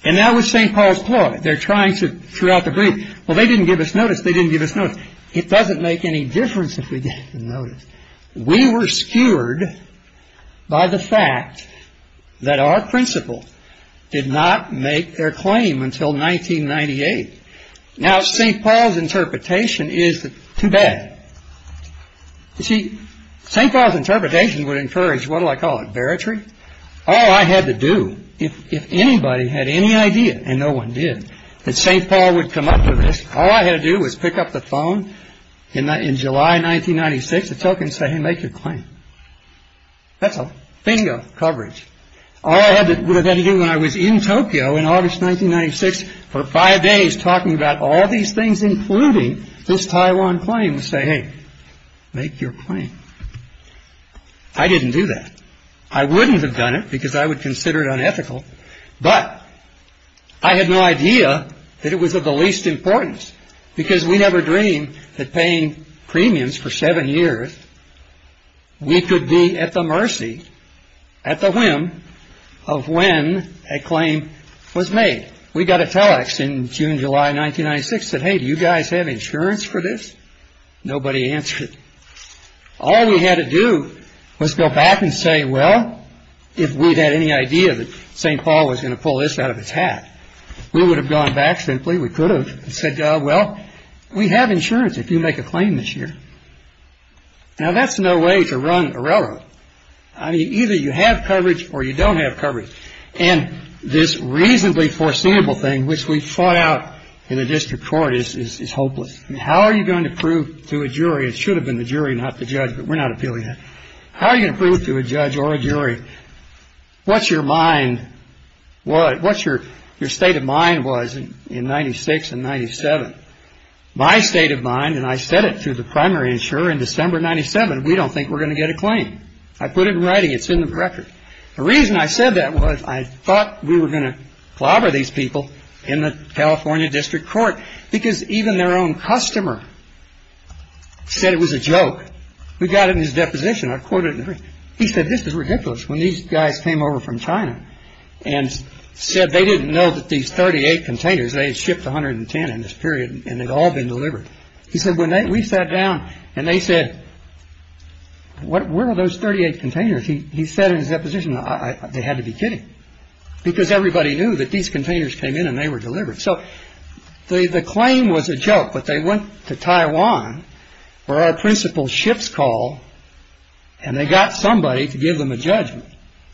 And now with St. Paul's Ploy, they're trying to throughout the brief, well, they didn't give us notice, they didn't give us notice. It doesn't make any difference if they didn't give us notice. We were skewered by the fact that our principal did not make their claim until 1998. Now, St. Paul's interpretation is too bad. You see, St. Paul's interpretation would encourage, what do I call it, baritrary? All I had to do, if anybody had any idea, and no one did, that St. Paul would come up with this, all I had to do was pick up the phone in July 1996 and tell him, hey, make your claim. That's a thing of coverage. All I had to do when I was in Tokyo in August 1996 for five days talking about all these things, including this Taiwan claim, was say, hey, make your claim. I didn't do that. I wouldn't have done it because I would consider it unethical, but I had no idea that it was of the least importance. Because we never dreamed that paying premiums for seven years, we could be at the mercy, at the whim of when a claim was made. We got a text in June, July 1996 that, hey, do you guys have insurance for this? Nobody answered. All we had to do was go back and say, well, if we had any idea that St. Paul was going to pull this out of its hat, we would have gone back simply. We could have said, well, we have insurance if you make a claim this year. Now, that's no way to run a railroad. Either you have coverage or you don't have coverage. And this reasonably foreseeable thing, which we fought out in a district court, is hopeless. Now, the question is, how are you going to prove to a jury, and it should have been the jury, not the judge, but we're not appealing that, how are you going to prove to a judge or a jury what your mind was, what your state of mind was in 1996 and 1997. My state of mind, and I said it to the primary insurer in December 1997, we don't think we're going to get a claim. I put it in writing. It's in the record. The reason I said that was I thought we were going to plobber these people in the California district court, because even their own customer said it was a joke. We got it in his deposition. He said this is ridiculous. When these guys came over from China and said they didn't know that these 38 containers, they had shipped 110 in this period, and they'd all been delivered. We sat down, and they said, where are those 38 containers? He said in his deposition, they had to be kidding, because everybody knew that these containers came in, and they were delivered. So, the claim was a joke, but they went to Taiwan, where our principal ships call, and they got somebody to give them a judgment.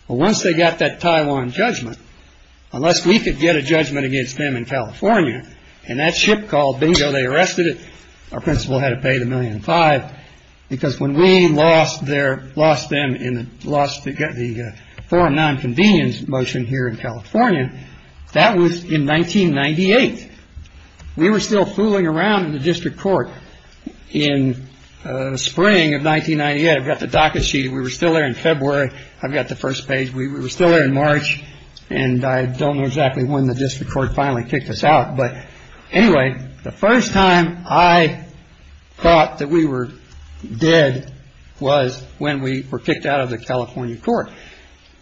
Once they got that Taiwan judgment, unless we could get a judgment against them in California, and that ship called, bingo, they arrested it. Our principal had to pay the $1.5 million, because when we lost the forum nonconvenience motion here in California, that was in 1998. We were still fooling around in the district court in spring of 1998. I've got the docket sheet. We were still there in February. I've got the first page. We were still there in March, and I don't know exactly when the district court finally kicked us out. But anyway, the first time I thought that we were dead was when we were kicked out of the California court.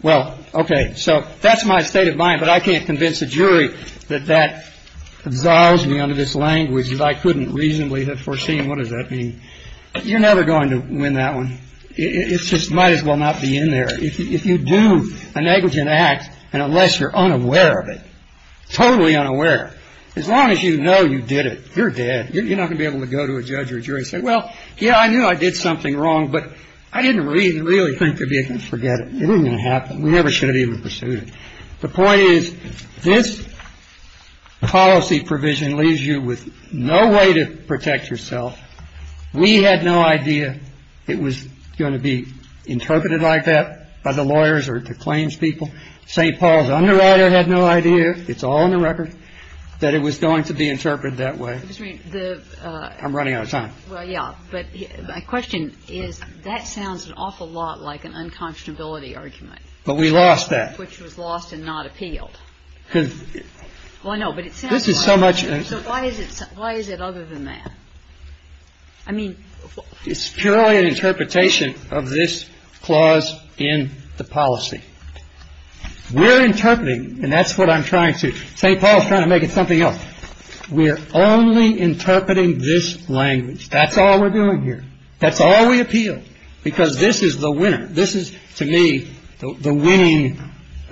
Well, OK, so that's my state of mind, but I can't convince the jury that that involves me under this language that I couldn't reasonably have foreseen. What does that mean? You're never going to win that one. It just might as well not be in there. If you do a negligent act, and unless you're unaware of it, totally unaware, as long as you know you did it, you're dead. You're not going to be able to go to a judge or a jury and say, well, yeah, I knew I did something wrong, but I didn't really think that we could forget it. It wasn't going to happen. We never should have even pursued it. The point is, this policy provision leaves you with no way to protect yourself. We had no idea it was going to be interpreted like that by the lawyers or the claims people. St. Paul's underwriter had no idea, it's all on the record, that it was going to be interpreted that way. I'm running out of time. Well, yeah, but my question is, that sounds an awful lot like an unconscionability argument. But we lost that. Which was lost and not appealed. Well, I know, but it sounds like it. So why is it other than that? I mean, it's purely an interpretation of this clause in the policy. We're interpreting, and that's what I'm trying to, St. Paul's trying to make it something else. We're only interpreting this language. That's all we're doing here. That's all we appealed. Because this is the winner. This is, to me, the winning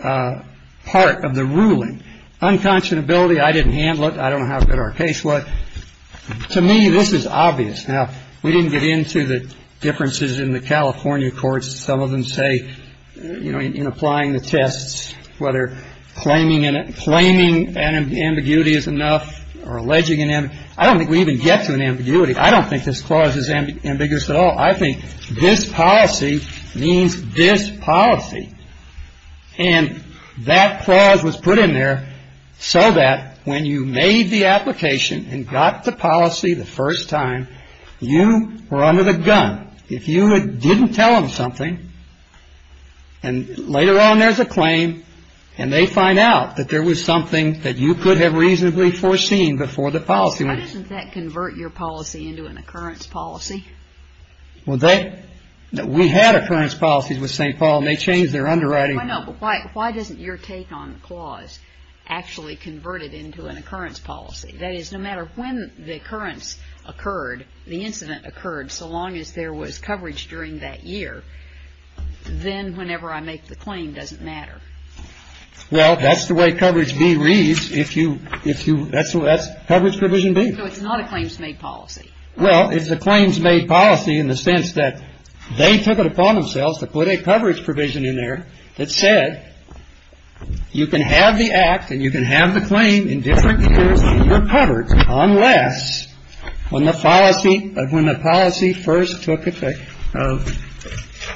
part of the ruling. Unconscionability, I didn't handle it. I don't know how good our case was. To me, this is obvious. Now, we didn't get into the differences in the California courts. Some of them say, you know, in applying the tests, whether claiming an ambiguity is enough or alleging an ambiguity. I don't think we even get to an ambiguity. I don't think this clause is ambiguous at all. I think this policy means this policy. And that clause was put in there so that when you made the application and got the policy the first time, you were under the gun. If you didn't tell them something, and later on there's a claim, and they find out that there was something that you could have reasonably foreseen before the policy was made. Doesn't that convert your policy into an occurrence policy? We had occurrence policies with St. Paul, and they changed their underwriting. Why doesn't your take on the clause actually convert it into an occurrence policy? That is, no matter when the occurrence occurred, the incident occurred, so long as there was coverage during that year, then whenever I make the claim, it doesn't matter. Well, that's the way coverage B reads. That's coverage provision B. So it's not a claims-made policy. Well, it's a claims-made policy in the sense that they took it upon themselves to put a coverage provision in there that said, You can have the act, and you can have the claim in different years, and you're covered unless when the policy first took effect.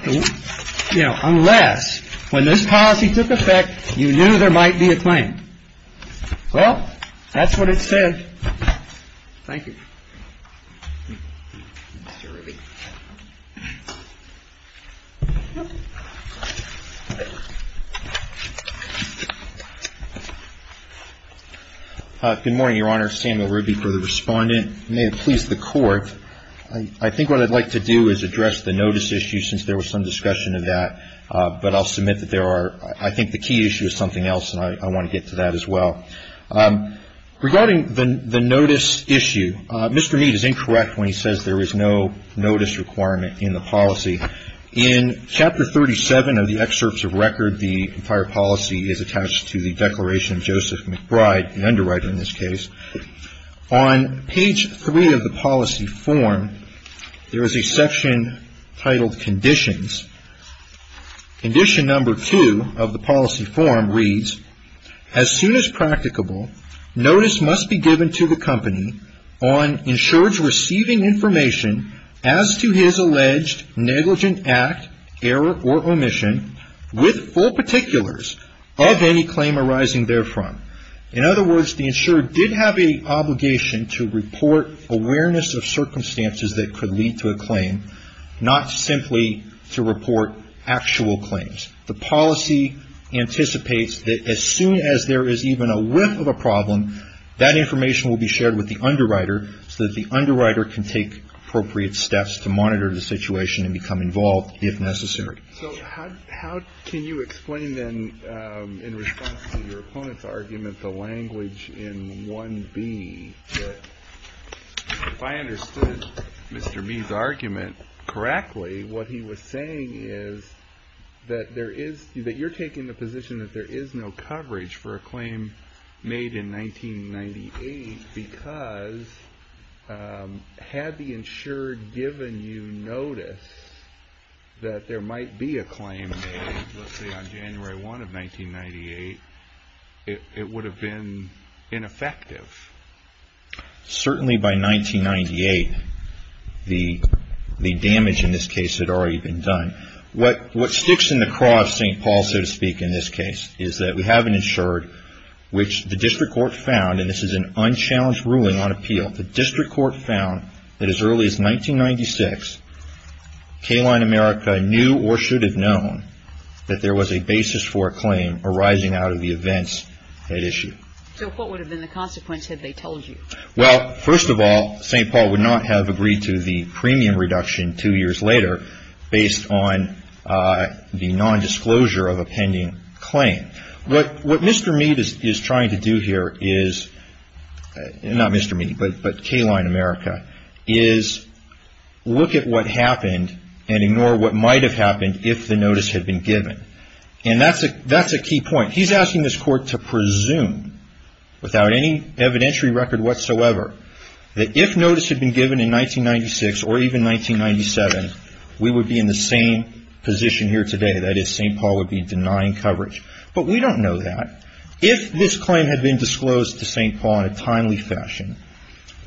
Unless when this policy took effect, you knew there might be a claim. Well, that's what it says. Thank you. Good morning, Your Honor. Samuel Ruby for the respondent. May it please the Court, I think what I'd like to do is address the notice issue, since there was some discussion of that, but I'll submit that there are, I think the key issue is something else, and I want to get to that as well. Regarding the notice issue, Mr. Mead is incorrect when he says there is no notice requirement in the policy. In Chapter 37 of the excerpts of record, the entire policy is attached to the Declaration of Joseph McBride, an underwriter in this case. On page 3 of the policy form, there is a section titled Conditions. Condition number 2 of the policy form reads, As soon as practicable, notice must be given to the company on insured receiving information as to his alleged negligent act, error, or omission with full particulars of any claim arising therefrom. In other words, the insured did have an obligation to report awareness of circumstances that could lead to a claim, not simply to report actual claims. The policy anticipates that as soon as there is even a whiff of a problem, that information will be shared with the underwriter so that the underwriter can take appropriate steps to monitor the situation and become involved if necessary. So how can you explain then, in response to your opponent's argument, the language in 1B? If I understood Mr. B's argument correctly, what he was saying is that you're taking the position that there is no coverage for a claim made in 1998 because had the insured given you notice that there might be a claim made, let's say on January 1 of 1998, it would have been ineffective. Certainly by 1998, the damage in this case had already been done. What sticks in the cross, St. Paul, so to speak, in this case, is that we have an insured, which the district court found, and this is an unchallenged ruling on appeal, the district court found that as early as 1996, K-Line America knew or should have known that there was a basis for a claim arising out of the events at issue. So what would have been the consequence had they told you? Well, first of all, St. Paul would not have agreed to the premium reduction two years later based on the nondisclosure of a pending claim. What Mr. Mead is trying to do here is, not Mr. Mead, but K-Line America, is look at what happened and ignore what might have happened if the notice had been given. And that's a key point. He's asking this court to presume, without any evidentiary record whatsoever, that if notice had been given in 1996 or even 1997, we would be in the same position here today. That is, St. Paul would be denying coverage. But we don't know that. If this claim had been disclosed to St. Paul in a timely fashion,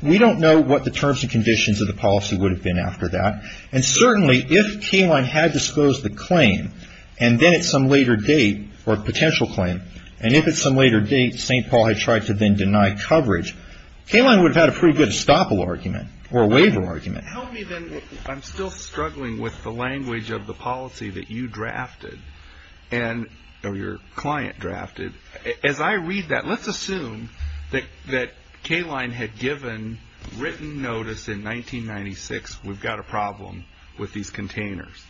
we don't know what the terms and conditions of the policy would have been after that. And certainly if K-Line had disclosed the claim, and then at some later date, or potential claim, and if at some later date St. Paul had tried to then deny coverage, K-Line would have had a pretty good estoppel argument or a waiver argument. I'm still struggling with the language of the policy that you drafted, or your client drafted. As I read that, let's assume that K-Line had given written notice in 1996, we've got a problem with these containers.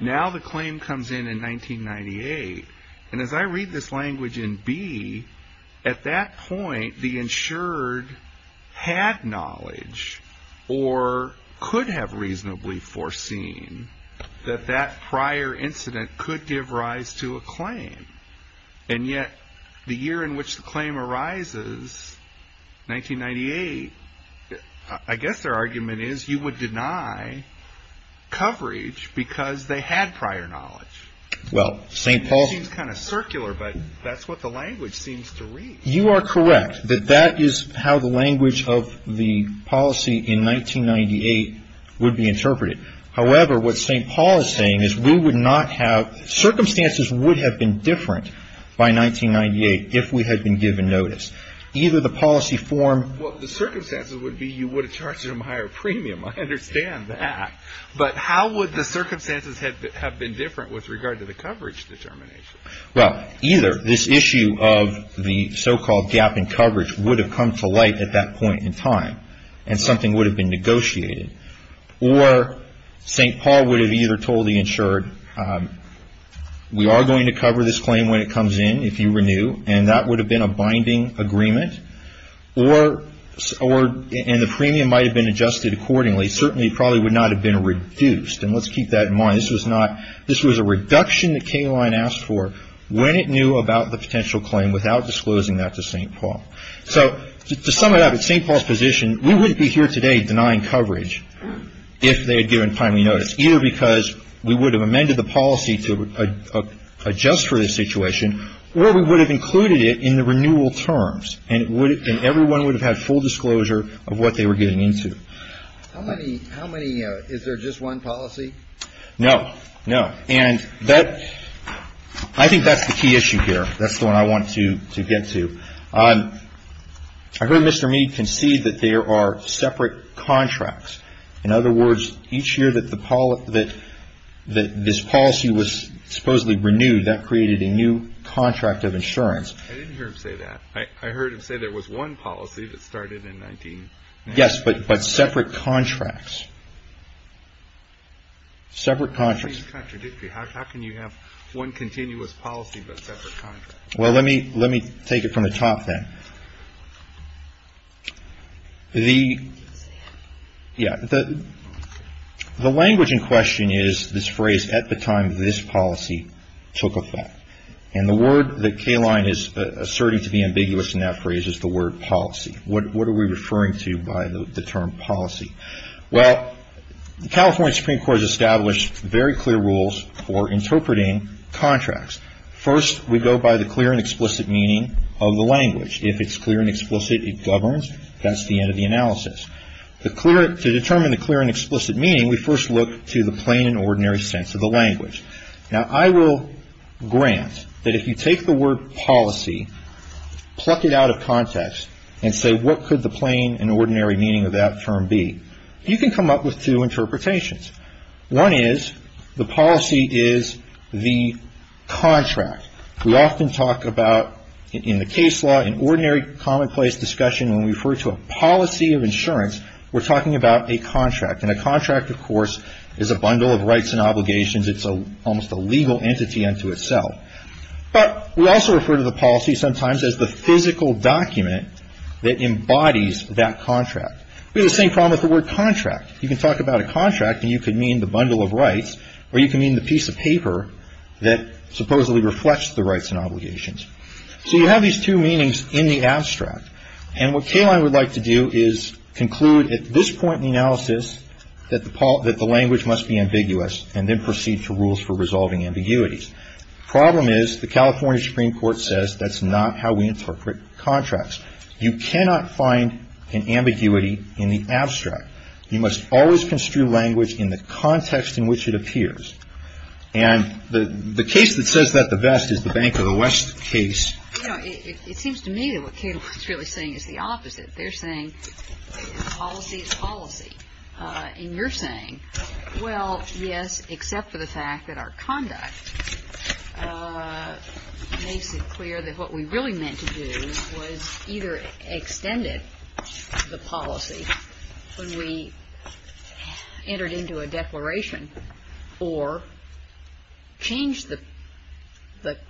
Now the claim comes in in 1998, and as I read this language in B, at that point the insured had knowledge, or could have reasonably foreseen, that that prior incident could give rise to a claim. And yet the year in which the claim arises, 1998, I guess their argument is you would deny coverage because they had prior knowledge. It seems kind of circular, but that's what the language seems to read. You are correct. That is how the language of the policy in 1998 would be interpreted. However, what St. Paul is saying is we would not have, circumstances would have been different by 1998 if we had been given notice. Either the policy form... Well, the circumstances would be you would have charged them a higher premium. I understand that. But how would the circumstances have been different with regard to the coverage determination? Well, either this issue of the so-called gap in coverage would have come to light at that point in time, and something would have been negotiated, or St. Paul would have either told the insured, we are going to cover this claim when it comes in if you renew, and that would have been a binding agreement, and the premium might have been adjusted accordingly. It certainly probably would not have been reduced, and let's keep that in mind. This was a reduction that K-Line asked for when it knew about the potential claim without disclosing that to St. Paul. So, to sum it up, at St. Paul's position, we wouldn't be here today denying coverage if they had given timely notice, either because we would have amended the policy to adjust for the situation, or we would have included it in the renewal terms, and everyone would have had full disclosure of what they were getting into. How many, is there just one policy? No, no. And that, I think that's the key issue here. That's what I wanted to get to. I heard Mr. Mead concede that there are separate contracts. In other words, each year that this policy was supposedly renewed, that created a new contract of insurance. I didn't hear him say that. I heard him say there was one policy that started in 19- Yes, but separate contracts. Separate contracts. How can you have one continuous policy but separate contracts? Well, let me take it from the top then. The, yeah, the language in question is this phrase, at the time this policy took effect. And the word that K-Line is asserting to be ambiguous in that phrase is the word policy. What are we referring to by the term policy? Well, the California Supreme Court has established very clear rules for interpreting contracts. First, we go by the clear and explicit meaning of the language. If it's clear and explicit, it governs. That's the end of the analysis. The clear, to determine the clear and explicit meaning, we first look to the plain and ordinary sense of the language. Now, I will grant that if you take the word policy, pluck it out of context and say, what could the plain and ordinary meaning of that term be? You can come up with two interpretations. One is, the policy is the contract. We often talk about, in the case law, in ordinary commonplace discussion, when we refer to a policy of insurance, we're talking about a contract. And a contract, of course, is a bundle of rights and obligations. It's almost a legal entity unto itself. But we also refer to the policy sometimes as the physical document that embodies that contract. We have the same problem with the word contract. You can talk about a contract, and you can mean the bundle of rights, or you can mean the piece of paper that supposedly reflects the rights and obligations. So you have these two meanings in the abstract. And what Kayline would like to do is conclude, at this point in the analysis, that the language must be ambiguous, and then proceed to rules for resolving ambiguities. The problem is, the California Supreme Court says that's not how we interpret contracts. You cannot find an ambiguity in the abstract. You must always construe language in the context in which it appears. And the case that says that the best is the Bank of the West case. You know, it seems to me that what Kayline is really saying is the opposite. They're saying, policy is policy. And you're saying, well, yes, except for the fact that our conduct makes it clear that what we really meant to do was either extend it, the policy, when we entered into a declaration, or change the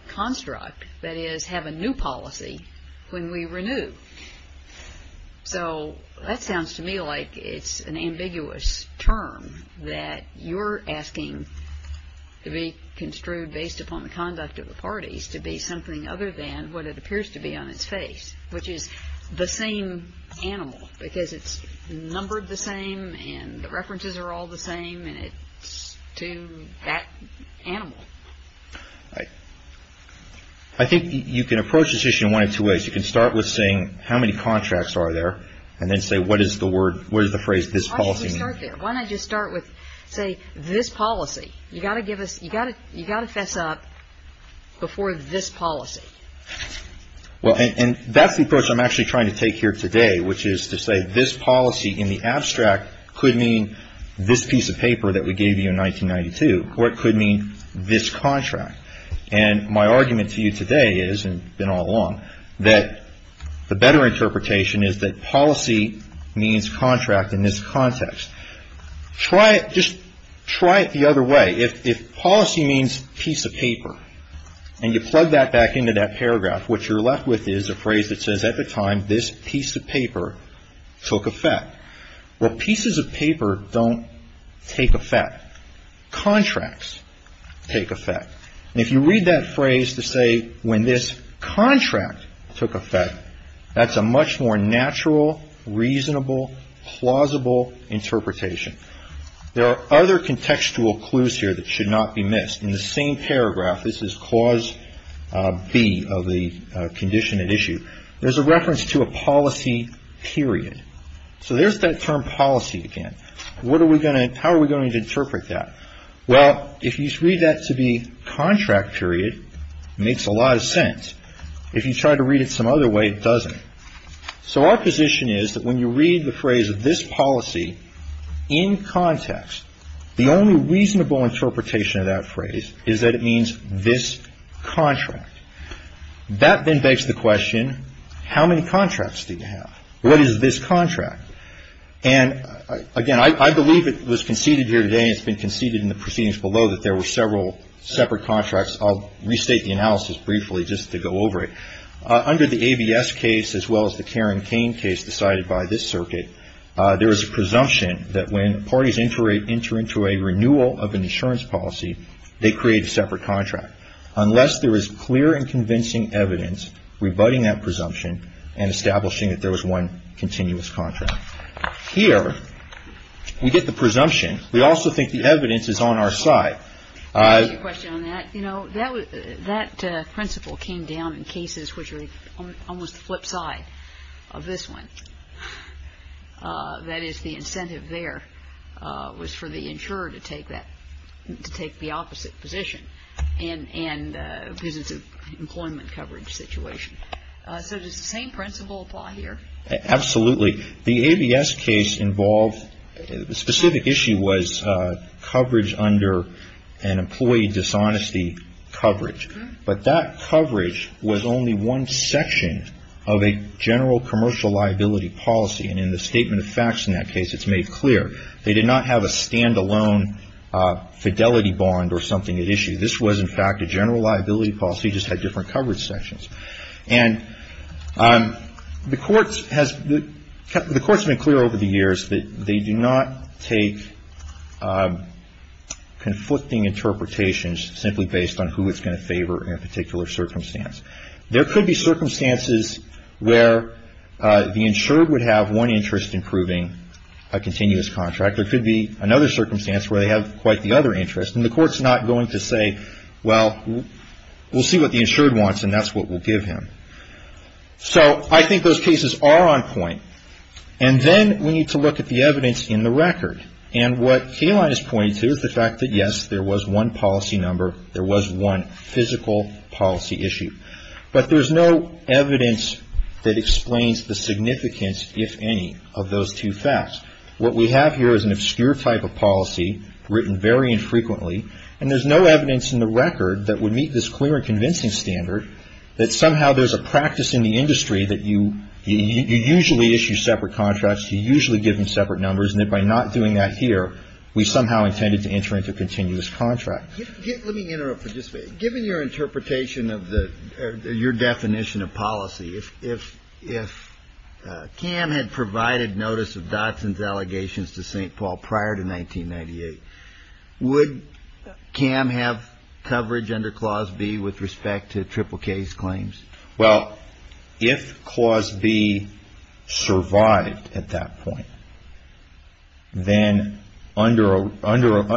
construct, that is, have a new policy when we renew. So that sounds to me like it's an ambiguous term, that you're asking to be construed based upon the conduct of the parties to be something other than what it appears to be on its face, which is the same animal, because it's numbered the same, and the references are all the same, and it's to that animal. All right. I think you can approach this issue in one of two ways. You can start with saying, how many contracts are there? And then say, what is the phrase, this policy? Why don't we start there? Why not just start with, say, this policy? You've got to fess up before this policy. Well, and that's the approach I'm actually trying to take here today, which is to say, this policy in the abstract could mean this piece of paper that we gave you in 1992. Or it could mean this contract. And my argument to you today is, and it's been all along, that the better interpretation is that policy means contract in this context. Just try it the other way. If policy means piece of paper, and you plug that back into that paragraph, what you're left with is a phrase that says, at the time, this piece of paper took effect. Well, pieces of paper don't take effect. Contracts take effect. And if you read that phrase to say, when this contract took effect, that's a much more natural, reasonable, plausible interpretation. There are other contextual clues here that should not be missed. In the same paragraph, this is Clause B of the Condition and Issue, there's a reference to a policy period. So there's that term policy again. How are we going to interpret that? Well, if you read that to be contract period, it makes a lot of sense. If you try to read it some other way, it doesn't. So our position is that when you read the phrase, this policy, in context, the only reasonable interpretation of that phrase is that it means this contract. That then begs the question, how many contracts do you have? What is this contract? And, again, I believe it was conceded here today, and it's been conceded in the proceedings below that there were several separate contracts. I'll restate the analysis briefly just to go over it. Under the ABS case, as well as the Karen Kane case decided by this circuit, there is a presumption that when parties enter into a renewal of an insurance policy, they create a separate contract. Unless there is clear and convincing evidence rebutting that presumption and establishing that there was one continuous contract. Here, we get the presumption. We also think the evidence is on our side. I have a question on that. You know, that principle came down in cases which are almost a foot high of this one. That is, the incentive there was for the insurer to take the opposite position and this is an employment coverage situation. So, does the same principle apply here? Absolutely. The ABS case involved, the specific issue was coverage under an employee dishonesty coverage. But that coverage was only one section of a general commercial liability policy, and in the statement of facts in that case, it's made clear. They did not have a stand-alone fidelity bond or something at issue. This was, in fact, a general liability policy, just had different coverage sections. And the court has been clear over the years that they do not take conflicting interpretations simply based on who it's going to favor in a particular circumstance. There could be circumstances where the insured would have one interest in proving a continuous contract. There could be another circumstance where they have quite the other interest and the court's not going to say, well, we'll see what the insured wants and that's what we'll give him. So, I think those cases are on point. And then we need to look at the evidence in the record. And what Kayline has pointed to is the fact that, yes, there was one policy number, there was one physical policy issue. But there's no evidence that explains the significance, if any, of those two facts. What we have here is an obscure type of policy written very infrequently. And there's no evidence in the record that would meet this clear and convincing standard that somehow there's a practice in the industry that you usually issue separate contracts, you usually give them separate numbers, and that by not doing that here, we somehow intended to enter into a continuous contract. Let me interrupt for just a second. Given your interpretation of the, or your definition of policy, if Cam had provided notice of Dodson's allegations to St. Paul prior to 1998, would Cam have coverage under Clause B with respect to Triple K's claims? Well, if Clause B survived at that point, then under,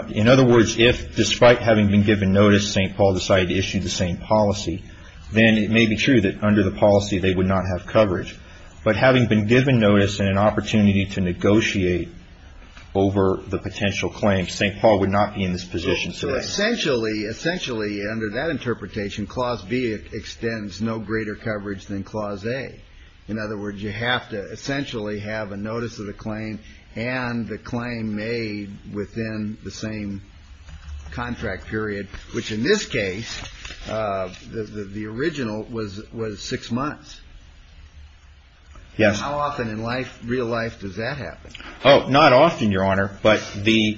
in other words, if despite having been given notice, St. Paul decided to issue the same policy, then it may be true that under the policy they would not have coverage. But having been given notice and an opportunity to negotiate over the potential claims, St. Paul would not be in this position today. Essentially, under that interpretation, Clause B extends no greater coverage than Clause A. In other words, you have to essentially have a notice of the claim and the claim made within the same contract period, which in this case, the original was six months. Yes. How often in real life does that happen? Oh, not often, Your Honor. But the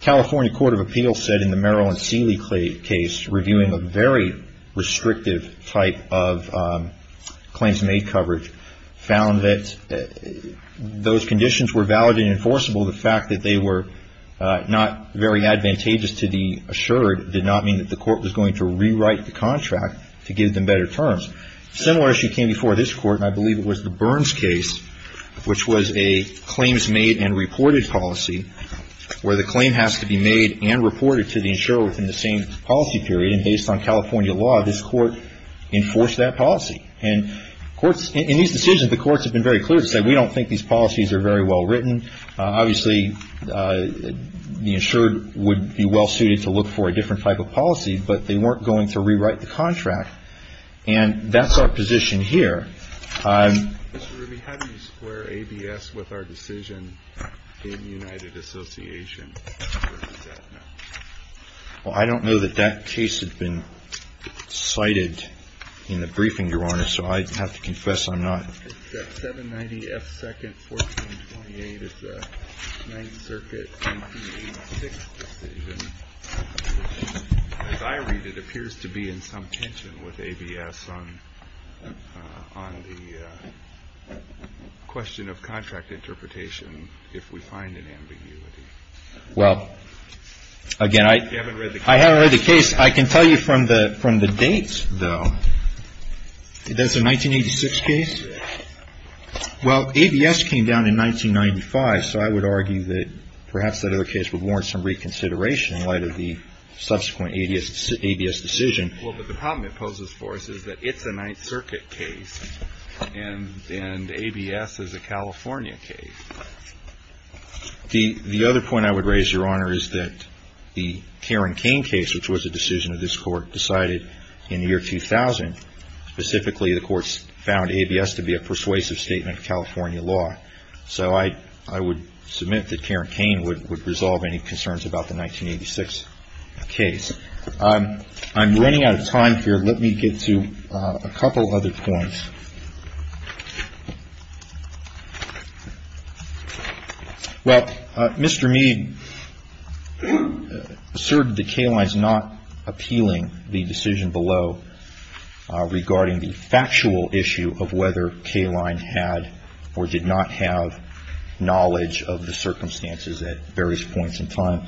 California Court of Appeals said in the Maryland Seeley case, reviewing a very restrictive type of claims made coverage, found that those conditions were valid and enforceable. The fact that they were not very advantageous to the insurer did not mean that the court was going to rewrite the contract to give them better terms. Similarly, she came before this Court, and I believe it was the Burns case, which was a claims made and reported policy, where the claim has to be made and reported to the insurer within the same policy period, and based on California law, this court enforced that policy. And in these decisions, the courts have been very clear. They said, we don't think these policies are very well written. Obviously, the insurer would be well-suited to look for a different type of policy, but they weren't going to rewrite the contract. And that's our position here. Mr. Ridley, how do you square ABS with our decision in United Association? Well, I don't know that that case has been cited in the briefing, Your Honor, so I'd have to confess I'm not. That 790 F. 2nd 1428 is the Ninth Circuit 1886 decision. As I read it, it appears to be in some tension with ABS on the question of contract interpretation, if we find an ambiguity. Well, again, I haven't read the case. I can tell you from the dates, though, that the 1986 case, well, ABS came down in 1995, so I would argue that perhaps that other case would warrant some reconsideration in light of the subsequent ABS decision. Well, the problem it poses for us is that it's a Ninth Circuit case, and ABS is a California case. The other point I would raise, Your Honor, is that the Karen Kane case, which was a decision of this court, decided in the year 2000. Specifically, the courts found ABS to be a persuasive statement of California law. So I would submit that Karen Kane would resolve any concerns about the 1986 case. I'm running out of time here. Let me get to a couple other points. Well, Mr. Mead asserted that Kayline is not appealing the decision below regarding the factual issue of whether Kayline had or did not have knowledge of the circumstances at various points in time.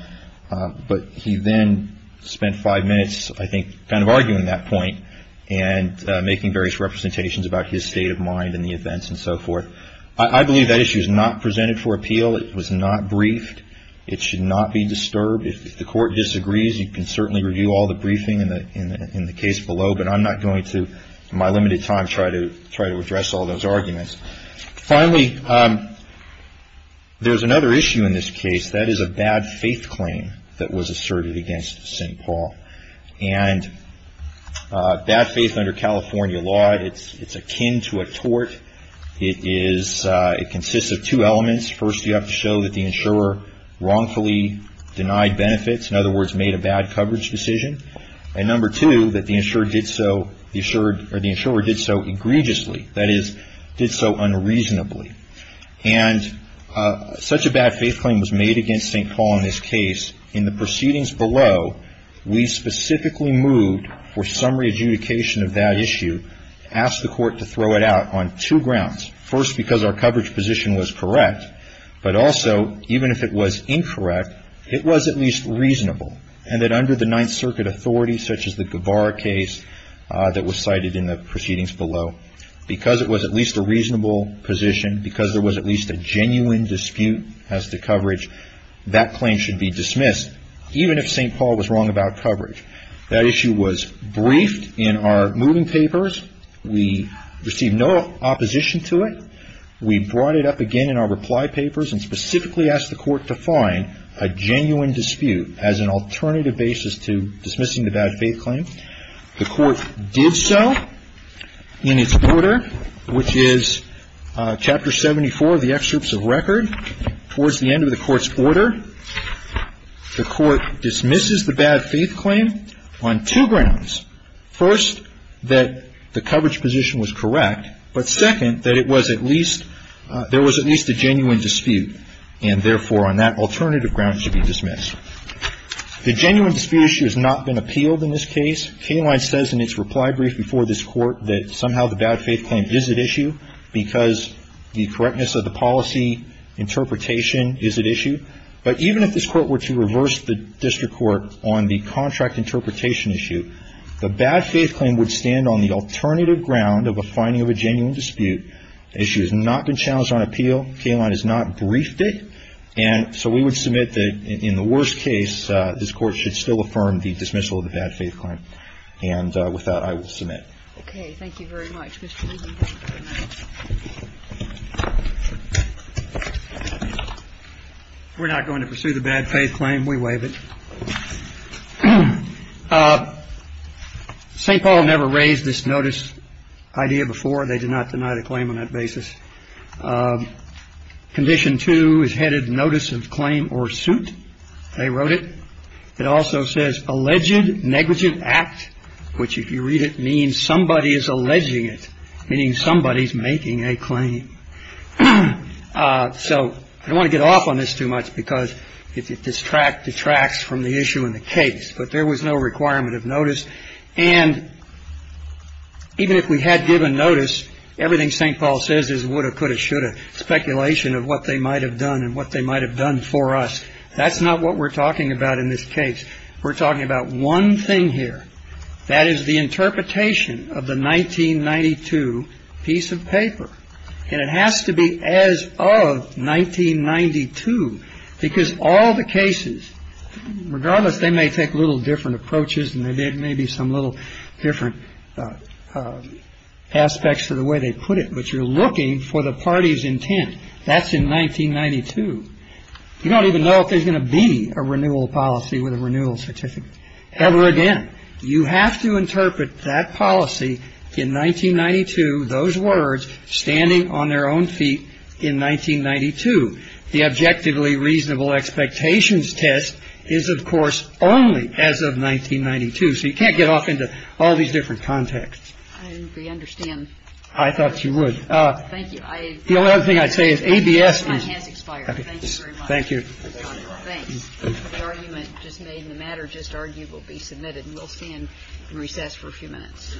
But he then spent five minutes, I think, kind of arguing that point and making various representations about his state of mind and the events and so forth. I believe that issue is not presented for appeal. It was not briefed. It should not be disturbed. If the court disagrees, you can certainly review all the briefing in the case below, but I'm not going to, in my limited time, try to address all those arguments. Finally, there's another issue in this case. That is a bad faith claim that was asserted against St. Paul. And bad faith under California law, it's akin to a tort. It consists of two elements. First, you have to show that the insurer wrongfully denied benefits, in other words, made a bad coverage decision. And number two, that the insurer did so egregiously. That is, did so unreasonably. And such a bad faith claim was made against St. Paul in this case. In the proceedings below, we specifically moved for some re-adjudication of that issue, asked the court to throw it out on two grounds. First, because our coverage position was correct. But also, even if it was incorrect, it was at least reasonable. And that under the Ninth Circuit authority, such as the Guevara case that was cited in the proceedings below, because it was at least a reasonable position, because there was at least a genuine dispute as to coverage, that claim should be dismissed, even if St. Paul was wrong about coverage. That issue was briefed in our moving papers. We received no opposition to it. We brought it up again in our reply papers and specifically asked the court to find a genuine dispute as an alternative basis to dismissing the bad faith claim. The court did so in its order, which is Chapter 74 of the Excerpts of Record. Towards the end of the court's order, the court dismisses the bad faith claim on two grounds. First, that the coverage position was correct. But second, that it was at least, there was at least a genuine dispute. And therefore, on that alternative ground, it should be dismissed. The genuine dispute issue has not been appealed in this case. Kingline says in its reply brief before this court that somehow the bad faith claim is at issue But even if this court were to reverse the district court on the contract interpretation issue, the bad faith claim would stand on the alternative ground of a finding of a genuine dispute. The issue has not been challenged on appeal. Kingline has not briefed it. And so we would submit that in the worst case, this court should still affirm the dismissal of the bad faith claim. And with that, I would submit. OK, thank you very much. We're not going to pursue the bad faith claim. We waive it. St. Paul never raised this notice idea before. They did not deny the claim on that basis. Condition two is headed notice of claim or suit. They wrote it. It also says alleged negative act, which, if you read it, means somebody is alleging it. Meaning somebody is making a claim. So I want to get off on this too much because it distracts from the issue in the case. But there was no requirement of notice. And even if we had given notice, everything St. Paul says is would have could have should have. Speculation of what they might have done and what they might have done for us. That's not what we're talking about in this case. We're talking about one thing here. That is the interpretation of the 1992 piece of paper. And it has to be as of 1992, because all the cases, regardless, they may take a little different approaches. And there may be some little different aspects to the way they put it. But you're looking for the party's intent. That's in 1992. You don't even know if there's going to be a renewal policy with a renewal certificate. Ever again. You have to interpret that policy in 1992, those words, standing on their own feet in 1992. The objectively reasonable expectations test is, of course, only as of 1992. So you can't get off into all these different contexts. I understand. I thought you would. Thank you. The only other thing I'd say is a B.S. Thank you. Thank you. Just made in the matter. Just argue will be submitted. We'll see him recess for a few minutes.